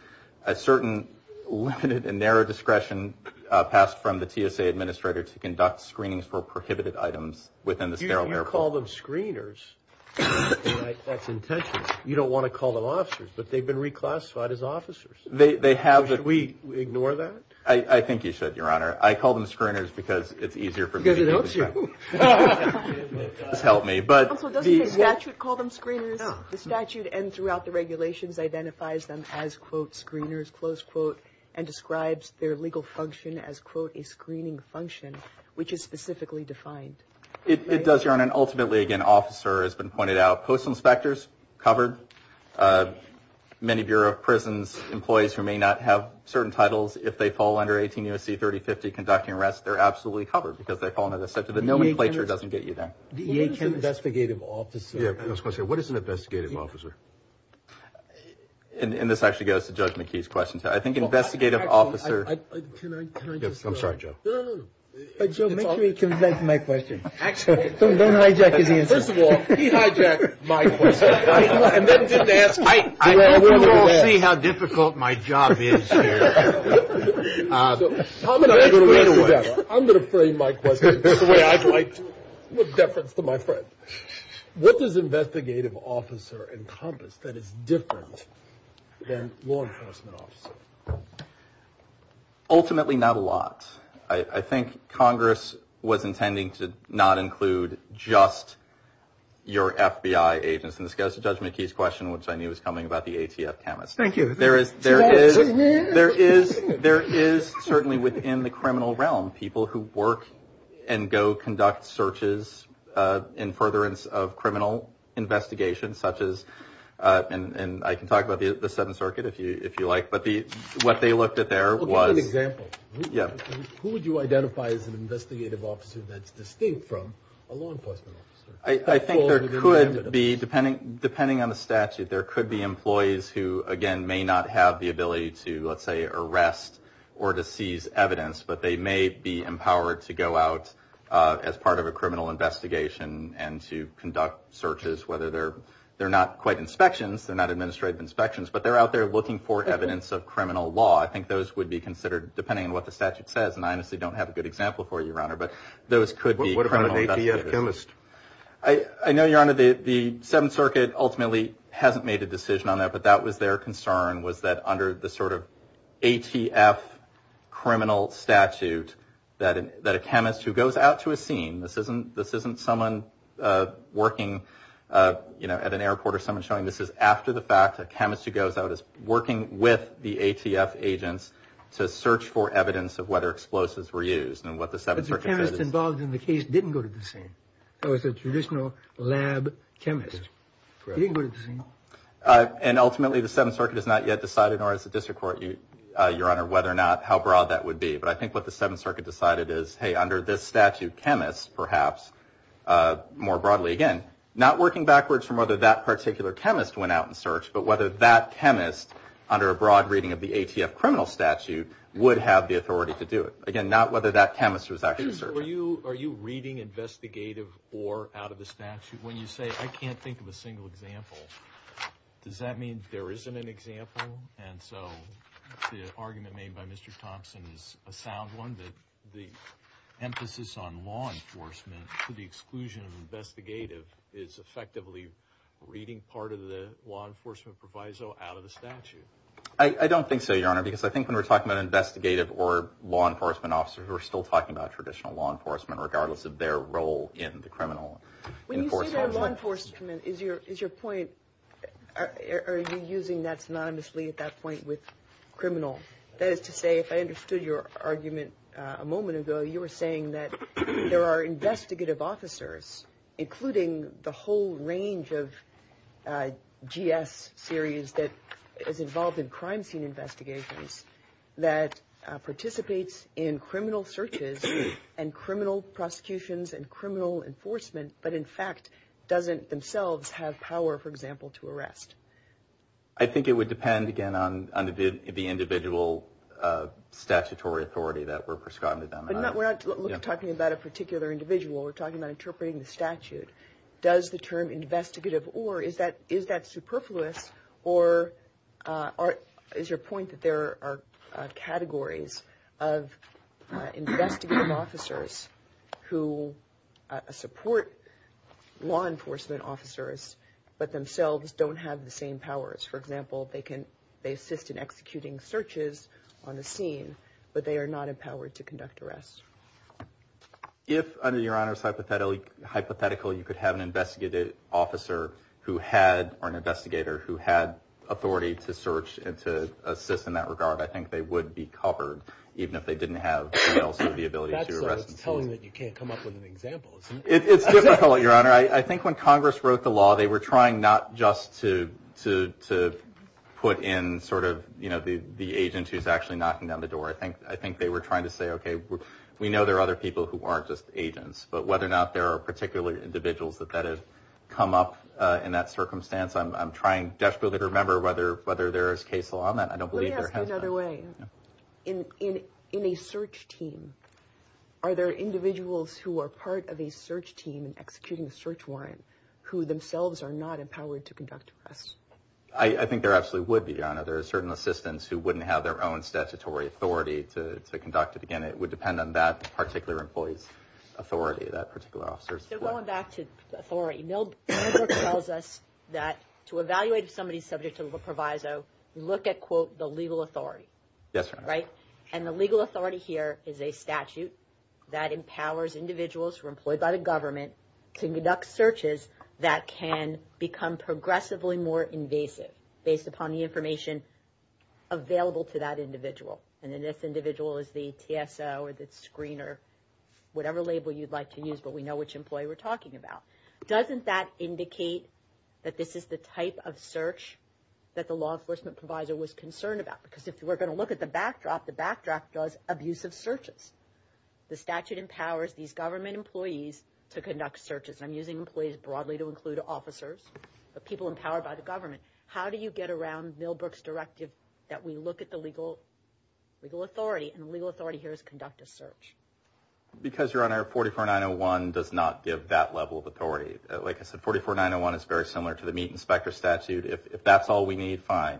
a certain limited and narrow discretion passed from the TSA administrator to conduct screenings for prohibited items within the sterile area. You call them screeners, right? That's intentional. You don't want to call them officers, but they've been reclassified as officers. Should we ignore that? I think you should, Your Honor. I call them screeners because it's easier for me to get in trouble. Because it helps you. It does help me. Counsel, doesn't the statute call them screeners? The statute and throughout the regulations identifies them as, quote, screeners, close quote, and describes their legal function as, quote, a screening function, which is specifically defined. It does, Your Honor. And ultimately, again, officer has been pointed out. Post inspectors, covered. Many Bureau of Prisons employees who may not have certain titles, if they fall under 18 U.S.C. 3050 conducting arrest, they're absolutely covered because they're calling it a statute. The nomenclature doesn't get you there. The EAC investigative officer. I was going to say, what is an investigative officer? And this actually goes to Judge McKee's question. I think investigative officer. Can I just? I'm sorry, Joe. No, no, no. Joe, make sure he comes back to my question. Don't hijack his answer. First of all, he hijacked my question. We will see how difficult my job is here. I'm going to frame my question the way I'd like to, with deference to my friend. What does investigative officer encompass that is different than law enforcement officer? Ultimately, not a lot. I think Congress was intending to not include just your FBI agents. And this goes to Judge McKee's question, which I knew was coming, about the ATF cameras. Thank you. There is certainly within the criminal realm people who work and go conduct searches in furtherance of criminal investigations, such as, and I can talk about the Seventh Circuit if you like, but what they looked at there was. Well, give an example. Who would you identify as an investigative officer that's distinct from a law enforcement officer? I think there could be, depending on the statute, there could be employees who, again, may not have the ability to, let's say, arrest or to seize evidence, but they may be empowered to go out as part of a criminal investigation and to conduct searches, whether they're not quite inspections, they're not administrative inspections, but they're out there looking for evidence of criminal law. I think those would be considered, depending on what the statute says, and I honestly don't have a good example for you, Your Honor, but those could be criminal investigators. What about an ATF chemist? I know, Your Honor, the Seventh Circuit ultimately hasn't made a decision on that, but that was their concern, was that under the sort of ATF criminal statute, that a chemist who goes out to a scene, this isn't someone working at an airport or someone showing this is after the fact, a chemist who goes out is working with the ATF agents to search for evidence of whether explosives were used. And what the Seventh Circuit says is... But the chemist involved in the case didn't go to the scene. It was a traditional lab chemist. Correct. He didn't go to the scene. And ultimately, the Seventh Circuit has not yet decided, nor has the District Court, Your Honor, whether or not how broad that would be. But I think what the Seventh Circuit decided is, hey, under this statute, chemists, perhaps, more broadly. Again, not working backwards from whether that particular chemist went out and searched, but whether that chemist, under a broad reading of the ATF criminal statute, would have the authority to do it. Again, not whether that chemist was actually searching. Are you reading investigative or out-of-the-statute? When you say, I can't think of a single example, does that mean there isn't an example? And so the argument made by Mr. Thompson is a sound one, that the emphasis on law enforcement to the exclusion of investigative is effectively reading part of the law enforcement proviso out-of-the-statute. I don't think so, Your Honor, because I think when we're talking about investigative or law enforcement officers, we're still talking about traditional law enforcement, regardless of their role in the criminal enforcement. When you say law enforcement, is your point, are you using that synonymously at that point with criminal? That is to say, if I understood your argument a moment ago, you were saying that there are investigative officers, including the whole range of GS series that is involved in crime scene investigations, that participates in criminal searches and criminal prosecutions and criminal enforcement, but in fact doesn't themselves have power, for example, to arrest. I think it would depend, again, on the individual statutory authority that were prescribed to them. But we're not talking about a particular individual. We're talking about interpreting the statute. Does the term investigative or, is that superfluous, or is your point that there are categories of investigative officers who support law enforcement officers, but themselves don't have the same powers? For example, they assist in executing searches on the scene, but they are not empowered to conduct arrests. If, under Your Honor's hypothetical, you could have an investigative officer who had, or an investigator who had authority to search and to assist in that regard, I think they would be covered, even if they didn't have the ability to arrest themselves. You're telling me that you can't come up with an example. It's difficult, Your Honor. I think when Congress wrote the law, they were trying not just to put in sort of, you know, the agent who's actually knocking down the door. I think they were trying to say, okay, we know there are other people who aren't just agents, but whether or not there are particular individuals that have come up in that circumstance, I'm trying desperately to remember whether there is case law on that. I don't believe there has been. Let me ask you another way. In a search team, are there individuals who are part of a search team and executing a search warrant who themselves are not empowered to conduct arrests? I think there absolutely would be, Your Honor. There are certain assistants who wouldn't have their own statutory authority to conduct it. Again, it would depend on that particular employee's authority, that particular officer's authority. So going back to authority, Millbrook tells us that to evaluate if somebody is subject to a proviso, you look at, quote, the legal authority. Yes, Your Honor. Right? And the legal authority here is a statute that empowers individuals who are employed by the government to conduct searches that can become progressively more invasive based upon the information available to that individual. And then this individual is the TSO or the screener, whatever label you'd like to use, but we know which employee we're talking about. Doesn't that indicate that this is the type of search that the law enforcement proviso was concerned about? Because if we're going to look at the backdrop, the backdrop does abusive searches. The statute empowers these government employees to conduct searches. I'm using employees broadly to include officers, but people empowered by the government. How do you get around Millbrook's directive that we look at the legal authority, and the legal authority here is conduct a search? Because, Your Honor, 44-901 does not give that level of authority. Like I said, 44-901 is very similar to the meat inspector statute. If that's all we need, fine,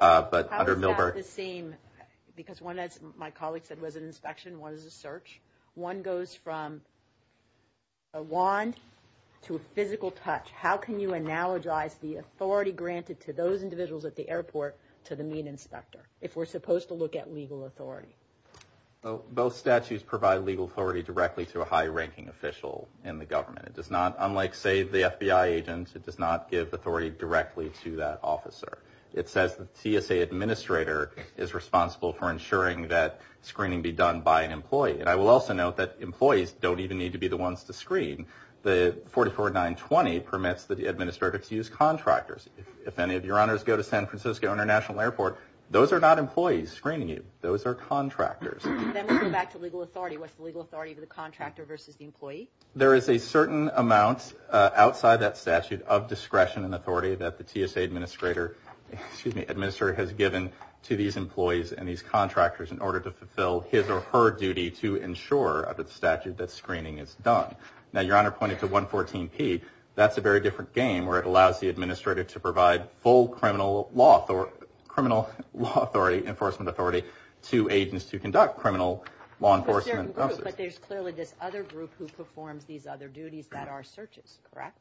but under Millbrook. How is that the same? Because one, as my colleague said, was an inspection, one is a search. One goes from a wand to a physical touch. How can you analogize the authority granted to those individuals at the airport to the meat inspector if we're supposed to look at legal authority? Both statutes provide legal authority directly to a high-ranking official in the government. It does not, unlike, say, the FBI agent, it does not give authority directly to that officer. It says the TSA administrator is responsible for ensuring that screening be done by an employee. And I will also note that employees don't even need to be the ones to screen. The 44-920 permits the administrator to use contractors. If any of Your Honors go to San Francisco International Airport, those are not employees screening you. Those are contractors. And then we go back to legal authority. What's the legal authority of the contractor versus the employee? There is a certain amount outside that statute of discretion and authority that the TSA administrator, excuse me, administrator has given to these employees and these contractors in order to fulfill his or her duty to ensure under the statute that screening is done. Now, Your Honor pointed to 114P. That's a very different game where it allows the administrator to provide full criminal law authority, enforcement authority to agents who conduct criminal law enforcement. But there's clearly this other group who performs these other duties that are searches, correct?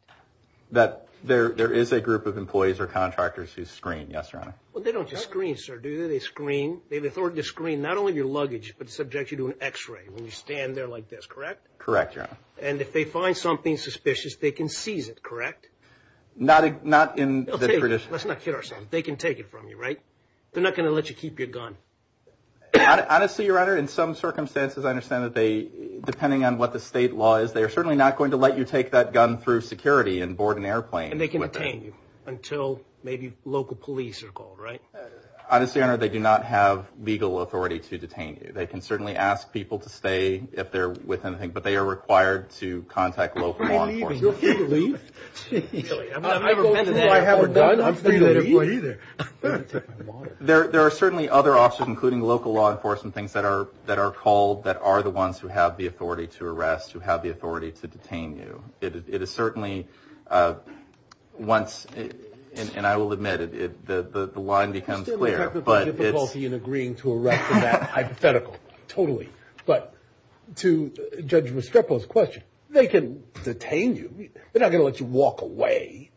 There is a group of employees or contractors who screen, yes, Your Honor. Well, they don't just screen, sir, do they? They screen. They have authority to screen not only your luggage but subject you to an x-ray when you stand there like this, correct? Correct, Your Honor. And if they find something suspicious, they can seize it, correct? Not in the tradition. Let's not kid ourselves. They can take it from you, right? They're not going to let you keep your gun. Honestly, Your Honor, in some circumstances I understand that they, depending on what the state law is, they are certainly not going to let you take that gun through security and board an airplane with it. And they can detain you until maybe local police are called, right? Honestly, Your Honor, they do not have legal authority to detain you. They can certainly ask people to stay if they're with anything, but they are required to contact local law enforcement. You're free to leave. Really? I've never been in there. I'm free to leave. There are certainly other officers, including local law enforcement, things that are called that are the ones who have the authority to arrest, who have the authority to detain you. It is certainly once, and I will admit it, the line becomes clear. I still have difficulty in agreeing to arrest in that hypothetical, totally. But to Judge Mastropa's question, they can detain you. They're not going to let you walk away.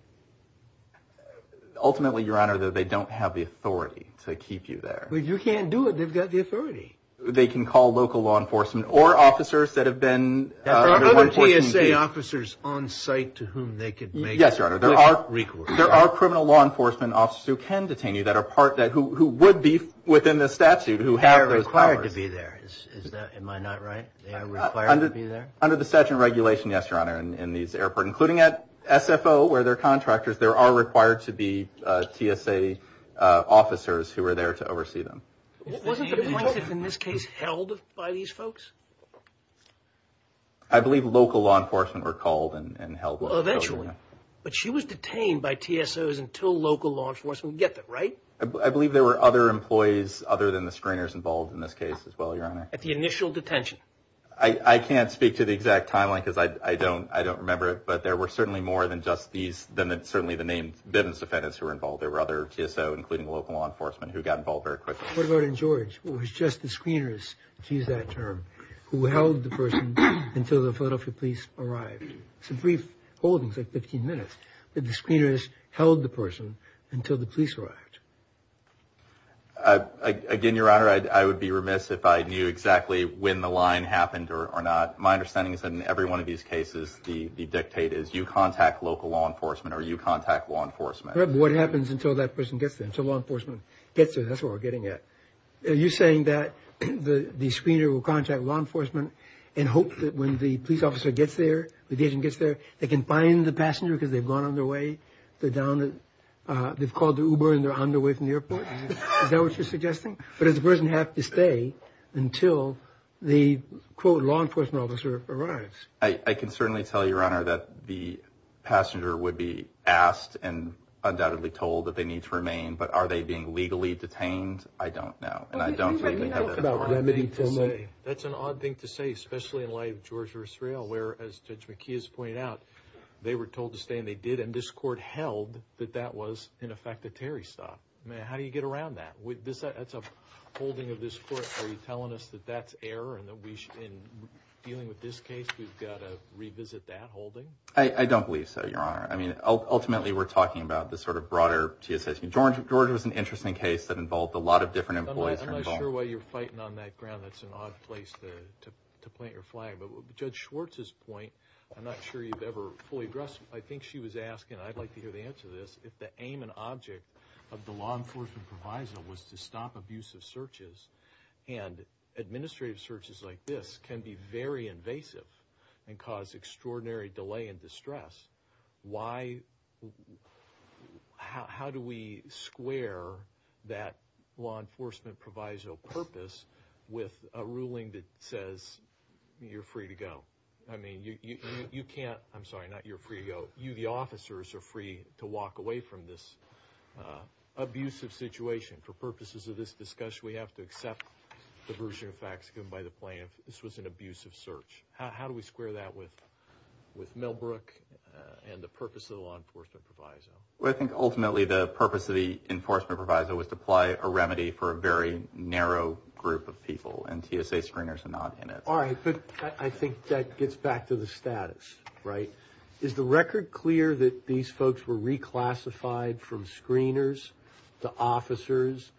Ultimately, Your Honor, they don't have the authority to keep you there. But you can't do it. They've got the authority. They can call local law enforcement or officers that have been under 14 days. Are there other TSA officers on site to whom they could make recourse? Yes, Your Honor, there are criminal law enforcement officers who can detain you who would be within the statute, who have those powers. They are required to be there. Am I not right? They are required to be there? Under the statute and regulation, yes, Your Honor, in these airports, including at SFO, where there are contractors, there are required to be TSA officers who are there to oversee them. Wasn't the plaintiff in this case held by these folks? I believe local law enforcement were called and held. Eventually. But she was detained by TSOs until local law enforcement got there, right? I believe there were other employees other than the screeners involved in this case as well, Your Honor. At the initial detention? I can't speak to the exact timeline because I don't remember it, but there were certainly more than just these, than certainly the named defendants who were involved. There were other TSOs, including local law enforcement, who got involved very quickly. What about in George? It was just the screeners, to use that term, who held the person until the Philadelphia police arrived. Some brief holdings, like 15 minutes, that the screeners held the person until the police arrived. Again, Your Honor, I would be remiss if I knew exactly when the line happened or not. My understanding is that in every one of these cases, the dictate is you contact local law enforcement or you contact law enforcement. But what happens until that person gets there, until law enforcement gets there? That's where we're getting at. Are you saying that the screener will contact law enforcement and hope that when the police officer gets there, when the agent gets there, they can find the passenger because they've gone on their way, they've called the Uber and they're on their way from the airport? Is that what you're suggesting? But does the person have to stay until the, quote, law enforcement officer arrives? I can certainly tell you, Your Honor, that the passenger would be asked and undoubtedly told that they need to remain. But are they being legally detained? I don't know, and I don't think they have that authority. That's an odd thing to say, especially in light of Georgia or Israel, where, as Judge McKee has pointed out, they were told to stay and they did, and this court held that that was, in effect, a Terry stop. I mean, how do you get around that? That's a holding of this court. Are you telling us that that's error and that we should, in dealing with this case, we've got to revisit that holding? I don't believe so, Your Honor. I mean, ultimately, we're talking about this sort of broader TSA. Georgia was an interesting case that involved a lot of different employees. I'm not sure why you're fighting on that ground. That's an odd place to plant your flag. But Judge Schwartz's point, I'm not sure you've ever fully addressed. I think she was asking, and I'd like to hear the answer to this, if the aim and object of the law enforcement proviso was to stop abusive searches, and administrative searches like this can be very invasive and cause extraordinary delay and distress. Why, how do we square that law enforcement proviso purpose with a ruling that says you're free to go? I mean, you can't, I'm sorry, not you're free to go. You, the officers, are free to walk away from this abusive situation. For purposes of this discussion, we have to accept the version of facts given by the plaintiff. This was an abusive search. How do we square that with Millbrook and the purpose of the law enforcement proviso? Well, I think, ultimately, the purpose of the enforcement proviso was to apply a remedy for a very narrow group of people, and TSA screeners are not in it. All right, but I think that gets back to the status, right? Is the record clear that these folks were reclassified from screeners to officers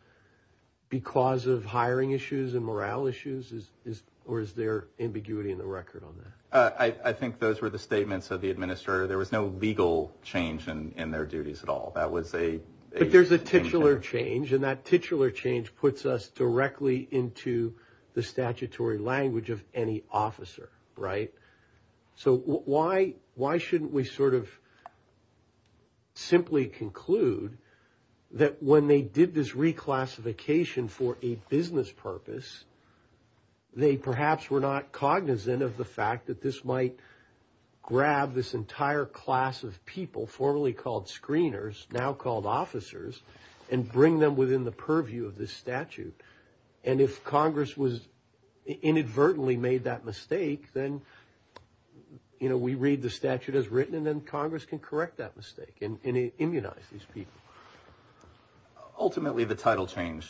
because of hiring issues and morale issues, or is there ambiguity in the record on that? I think those were the statements of the administrator. There was no legal change in their duties at all. That was a change there. But there's a titular change, and that titular change puts us directly into the statutory language of any officer, right? So why shouldn't we sort of simply conclude that when they did this reclassification for a business purpose, they perhaps were not cognizant of the fact that this might grab this entire class of people, formerly called screeners, now called officers, and bring them within the purview of this statute? And if Congress inadvertently made that mistake, then we read the statute as written, and then Congress can correct that mistake and immunize these people. Ultimately, the title change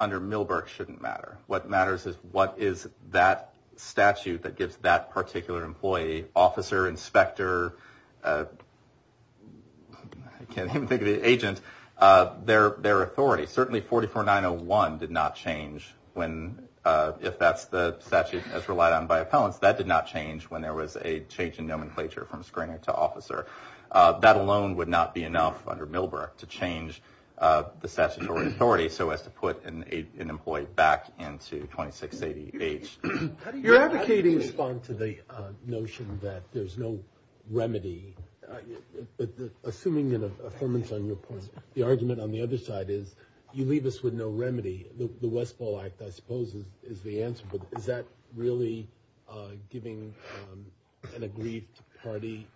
under Milberg shouldn't matter. What matters is what is that statute that gives that particular employee, officer, inspector, I can't even think of the agent, their authority. Certainly 44901 did not change when, if that's the statute that's relied on by appellants, that did not change when there was a change in nomenclature from screener to officer. That alone would not be enough under Milberg to change the statutory authority so as to put an employee back into 2680H. How do you respond to the notion that there's no remedy? Assuming an affirmance on your point, the argument on the other side is you leave us with no remedy. The Westfall Act, I suppose, is the answer. But is that really giving an aggrieved party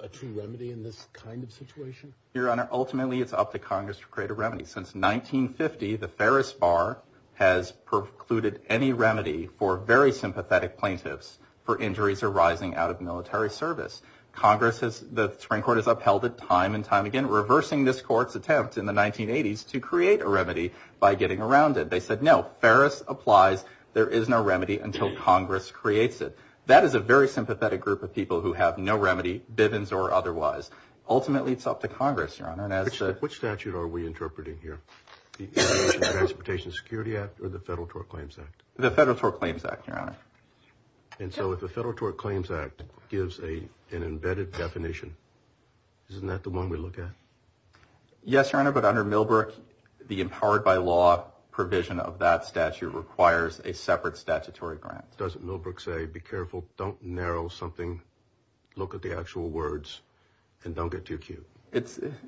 a true remedy in this kind of situation? Your Honor, ultimately it's up to Congress to create a remedy. Since 1950, the Ferris Bar has precluded any remedy for very sympathetic plaintiffs for injuries arising out of military service. Congress has, the Supreme Court has upheld it time and time again, reversing this court's attempt in the 1980s to create a remedy by getting around it. They said, no, Ferris applies. There is no remedy until Congress creates it. That is a very sympathetic group of people who have no remedy, Bivens or otherwise. Ultimately, it's up to Congress, Your Honor. Which statute are we interpreting here? The Transportation Security Act or the Federal Tort Claims Act? The Federal Tort Claims Act, Your Honor. And so if the Federal Tort Claims Act gives an embedded definition, isn't that the one we look at? Yes, Your Honor, but under Millbrook, the empowered by law provision of that statute requires a separate statutory grant. Doesn't Millbrook say, be careful, don't narrow something, look at the actual words, and don't get too cute?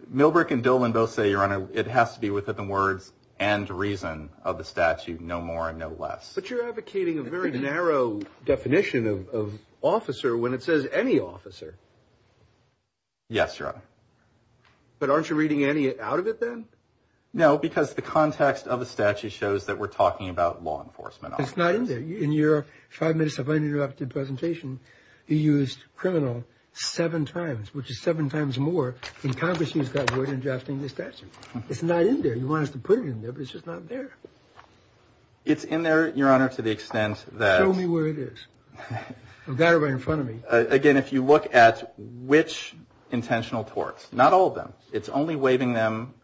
Millbrook and Dillon both say, Your Honor, it has to be within the words and reason of the statute, no more and no less. But you're advocating a very narrow definition of officer when it says any officer. Yes, Your Honor. But aren't you reading any out of it then? No, because the context of the statute shows that we're talking about law enforcement officers. It's not in there. In your five minutes of uninterrupted presentation, you used criminal seven times, which is seven times more than Congress used that word in drafting the statute. It's not in there. You want us to put it in there, but it's just not there. It's in there, Your Honor, to the extent that. Show me where it is. I've got it right in front of me. Again, if you look at which intentional torts, not all of them, it's only waiving them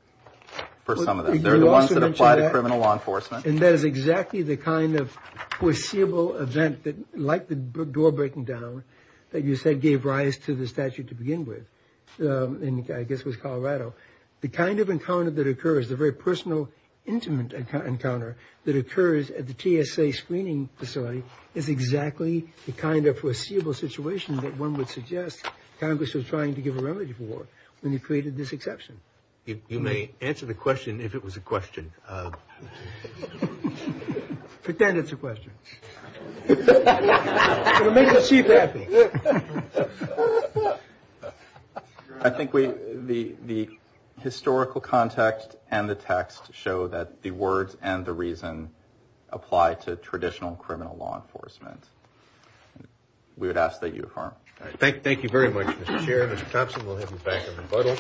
for some of them. They're the ones that apply to criminal law enforcement. And that is exactly the kind of foreseeable event that, like the door breaking down, that you said gave rise to the statute to begin with, and I guess it was Colorado. The kind of encounter that occurs, the very personal, intimate encounter that occurs at the TSA screening facility, is exactly the kind of foreseeable situation that one would suggest Congress was trying to give a remedy for when you created this exception. You may answer the question if it was a question. Pretend it's a question. It'll make the Chief happy. I think the historical context and the text show that the words and the reason apply to traditional criminal law enforcement. We would ask that you, Your Honor. Thank you very much, Mr. Chair. Mr. Thompson, we'll have you back in rebuttal.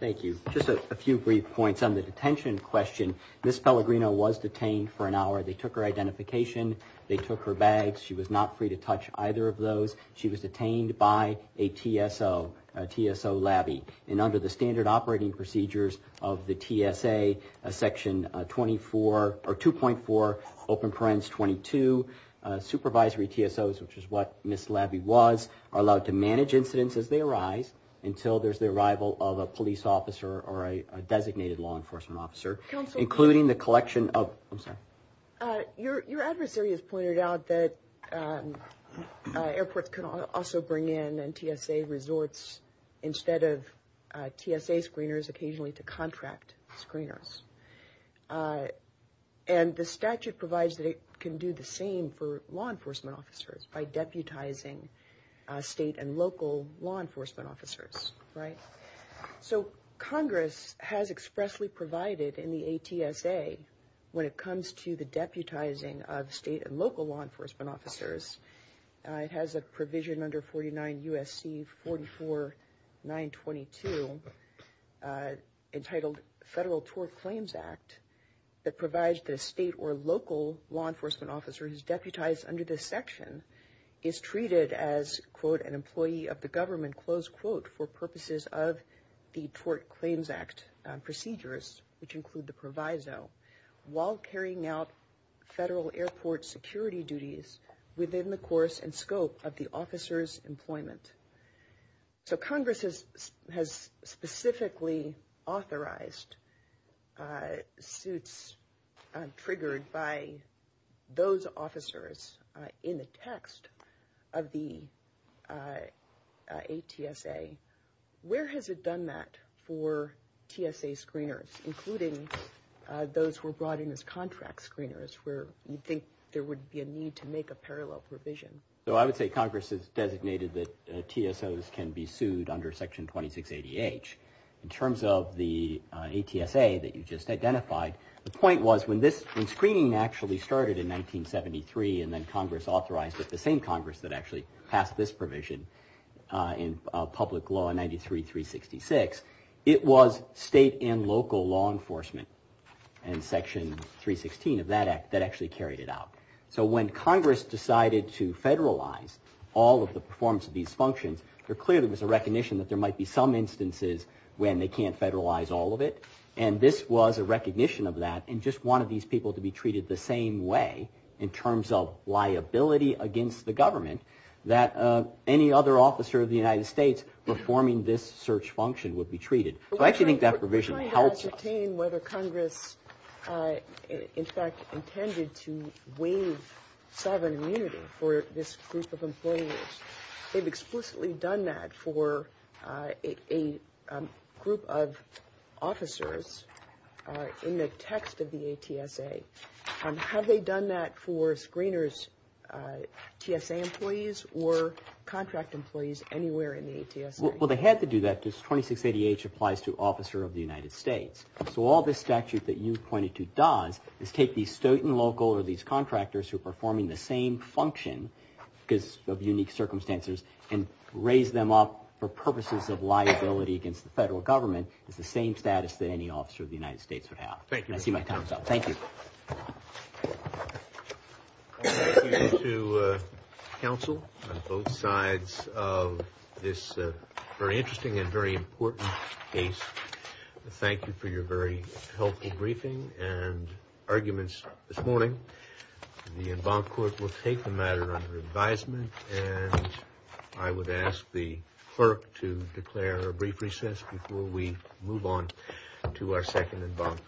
Thank you. Thank you. Just a few brief points on the detention question. Ms. Pellegrino was detained for an hour. They took her identification. They took her bags. She was not free to touch either of those. She was detained by a TSO, a TSO labbie. And under the standard operating procedures of the TSA, Section 24, or 2.4, Open Parents 22, supervisory TSOs, which is what Ms. Labbie was, are allowed to manage incidents as they arise until there's the arrival of a police officer or a designated law enforcement officer. Including the collection of, I'm sorry. Your adversary has pointed out that airports can also bring in TSA resorts instead of TSA screeners, occasionally to contract screeners. And the statute provides that it can do the same for law enforcement officers by deputizing state and local law enforcement officers, right? So Congress has expressly provided in the ATSA, when it comes to the deputizing of state and local law enforcement officers, it has a provision under 49 U.S.C. 44.922, entitled Federal Tort Claims Act, that provides the state or local law enforcement officer who's deputized under this section is treated as, quote, an employee of the government, close quote, for purposes of the Tort Claims Act procedures, which include the proviso, while carrying out federal airport security duties within the course and scope of the officer's employment. So Congress has specifically authorized suits triggered by those officers in the text of the ATSA. Where has it done that for TSA screeners, including those who were brought in as contract screeners, where you'd think there would be a need to make a parallel provision? So I would say Congress has designated that TSOs can be sued under Section 2680H. In terms of the ATSA that you just identified, the point was when this screening actually started in 1973 and then Congress authorized it, the same Congress that actually passed this provision in public law in 93-366, it was state and local law enforcement in Section 316 of that act that actually carried it out. So when Congress decided to federalize all of the performance of these functions, there clearly was a recognition that there might be some instances when they can't federalize all of it. And this was a recognition of that and just wanted these people to be treated the same way in terms of liability against the government that any other officer of the United States performing this search function would be treated. We're trying to ascertain whether Congress in fact intended to waive sovereign immunity for this group of employers. They've explicitly done that for a group of officers in the text of the ATSA. Have they done that for screeners, TSA employees or contract employees anywhere in the ATSA? Well, they had to do that because 2680H applies to officer of the United States. So all this statute that you pointed to does is take these state and local or these contractors who are performing the same function because of unique circumstances and raise them up for purposes of liability against the federal government. It's the same status that any officer of the United States would have. Thank you. I see my time's up. Thank you. Thank you to counsel on both sides of this very interesting and very important case. Thank you for your very helpful briefing and arguments this morning. The en banc court will take the matter under advisement. I would ask the clerk to declare a brief recess before we move on to our second en banc for the day.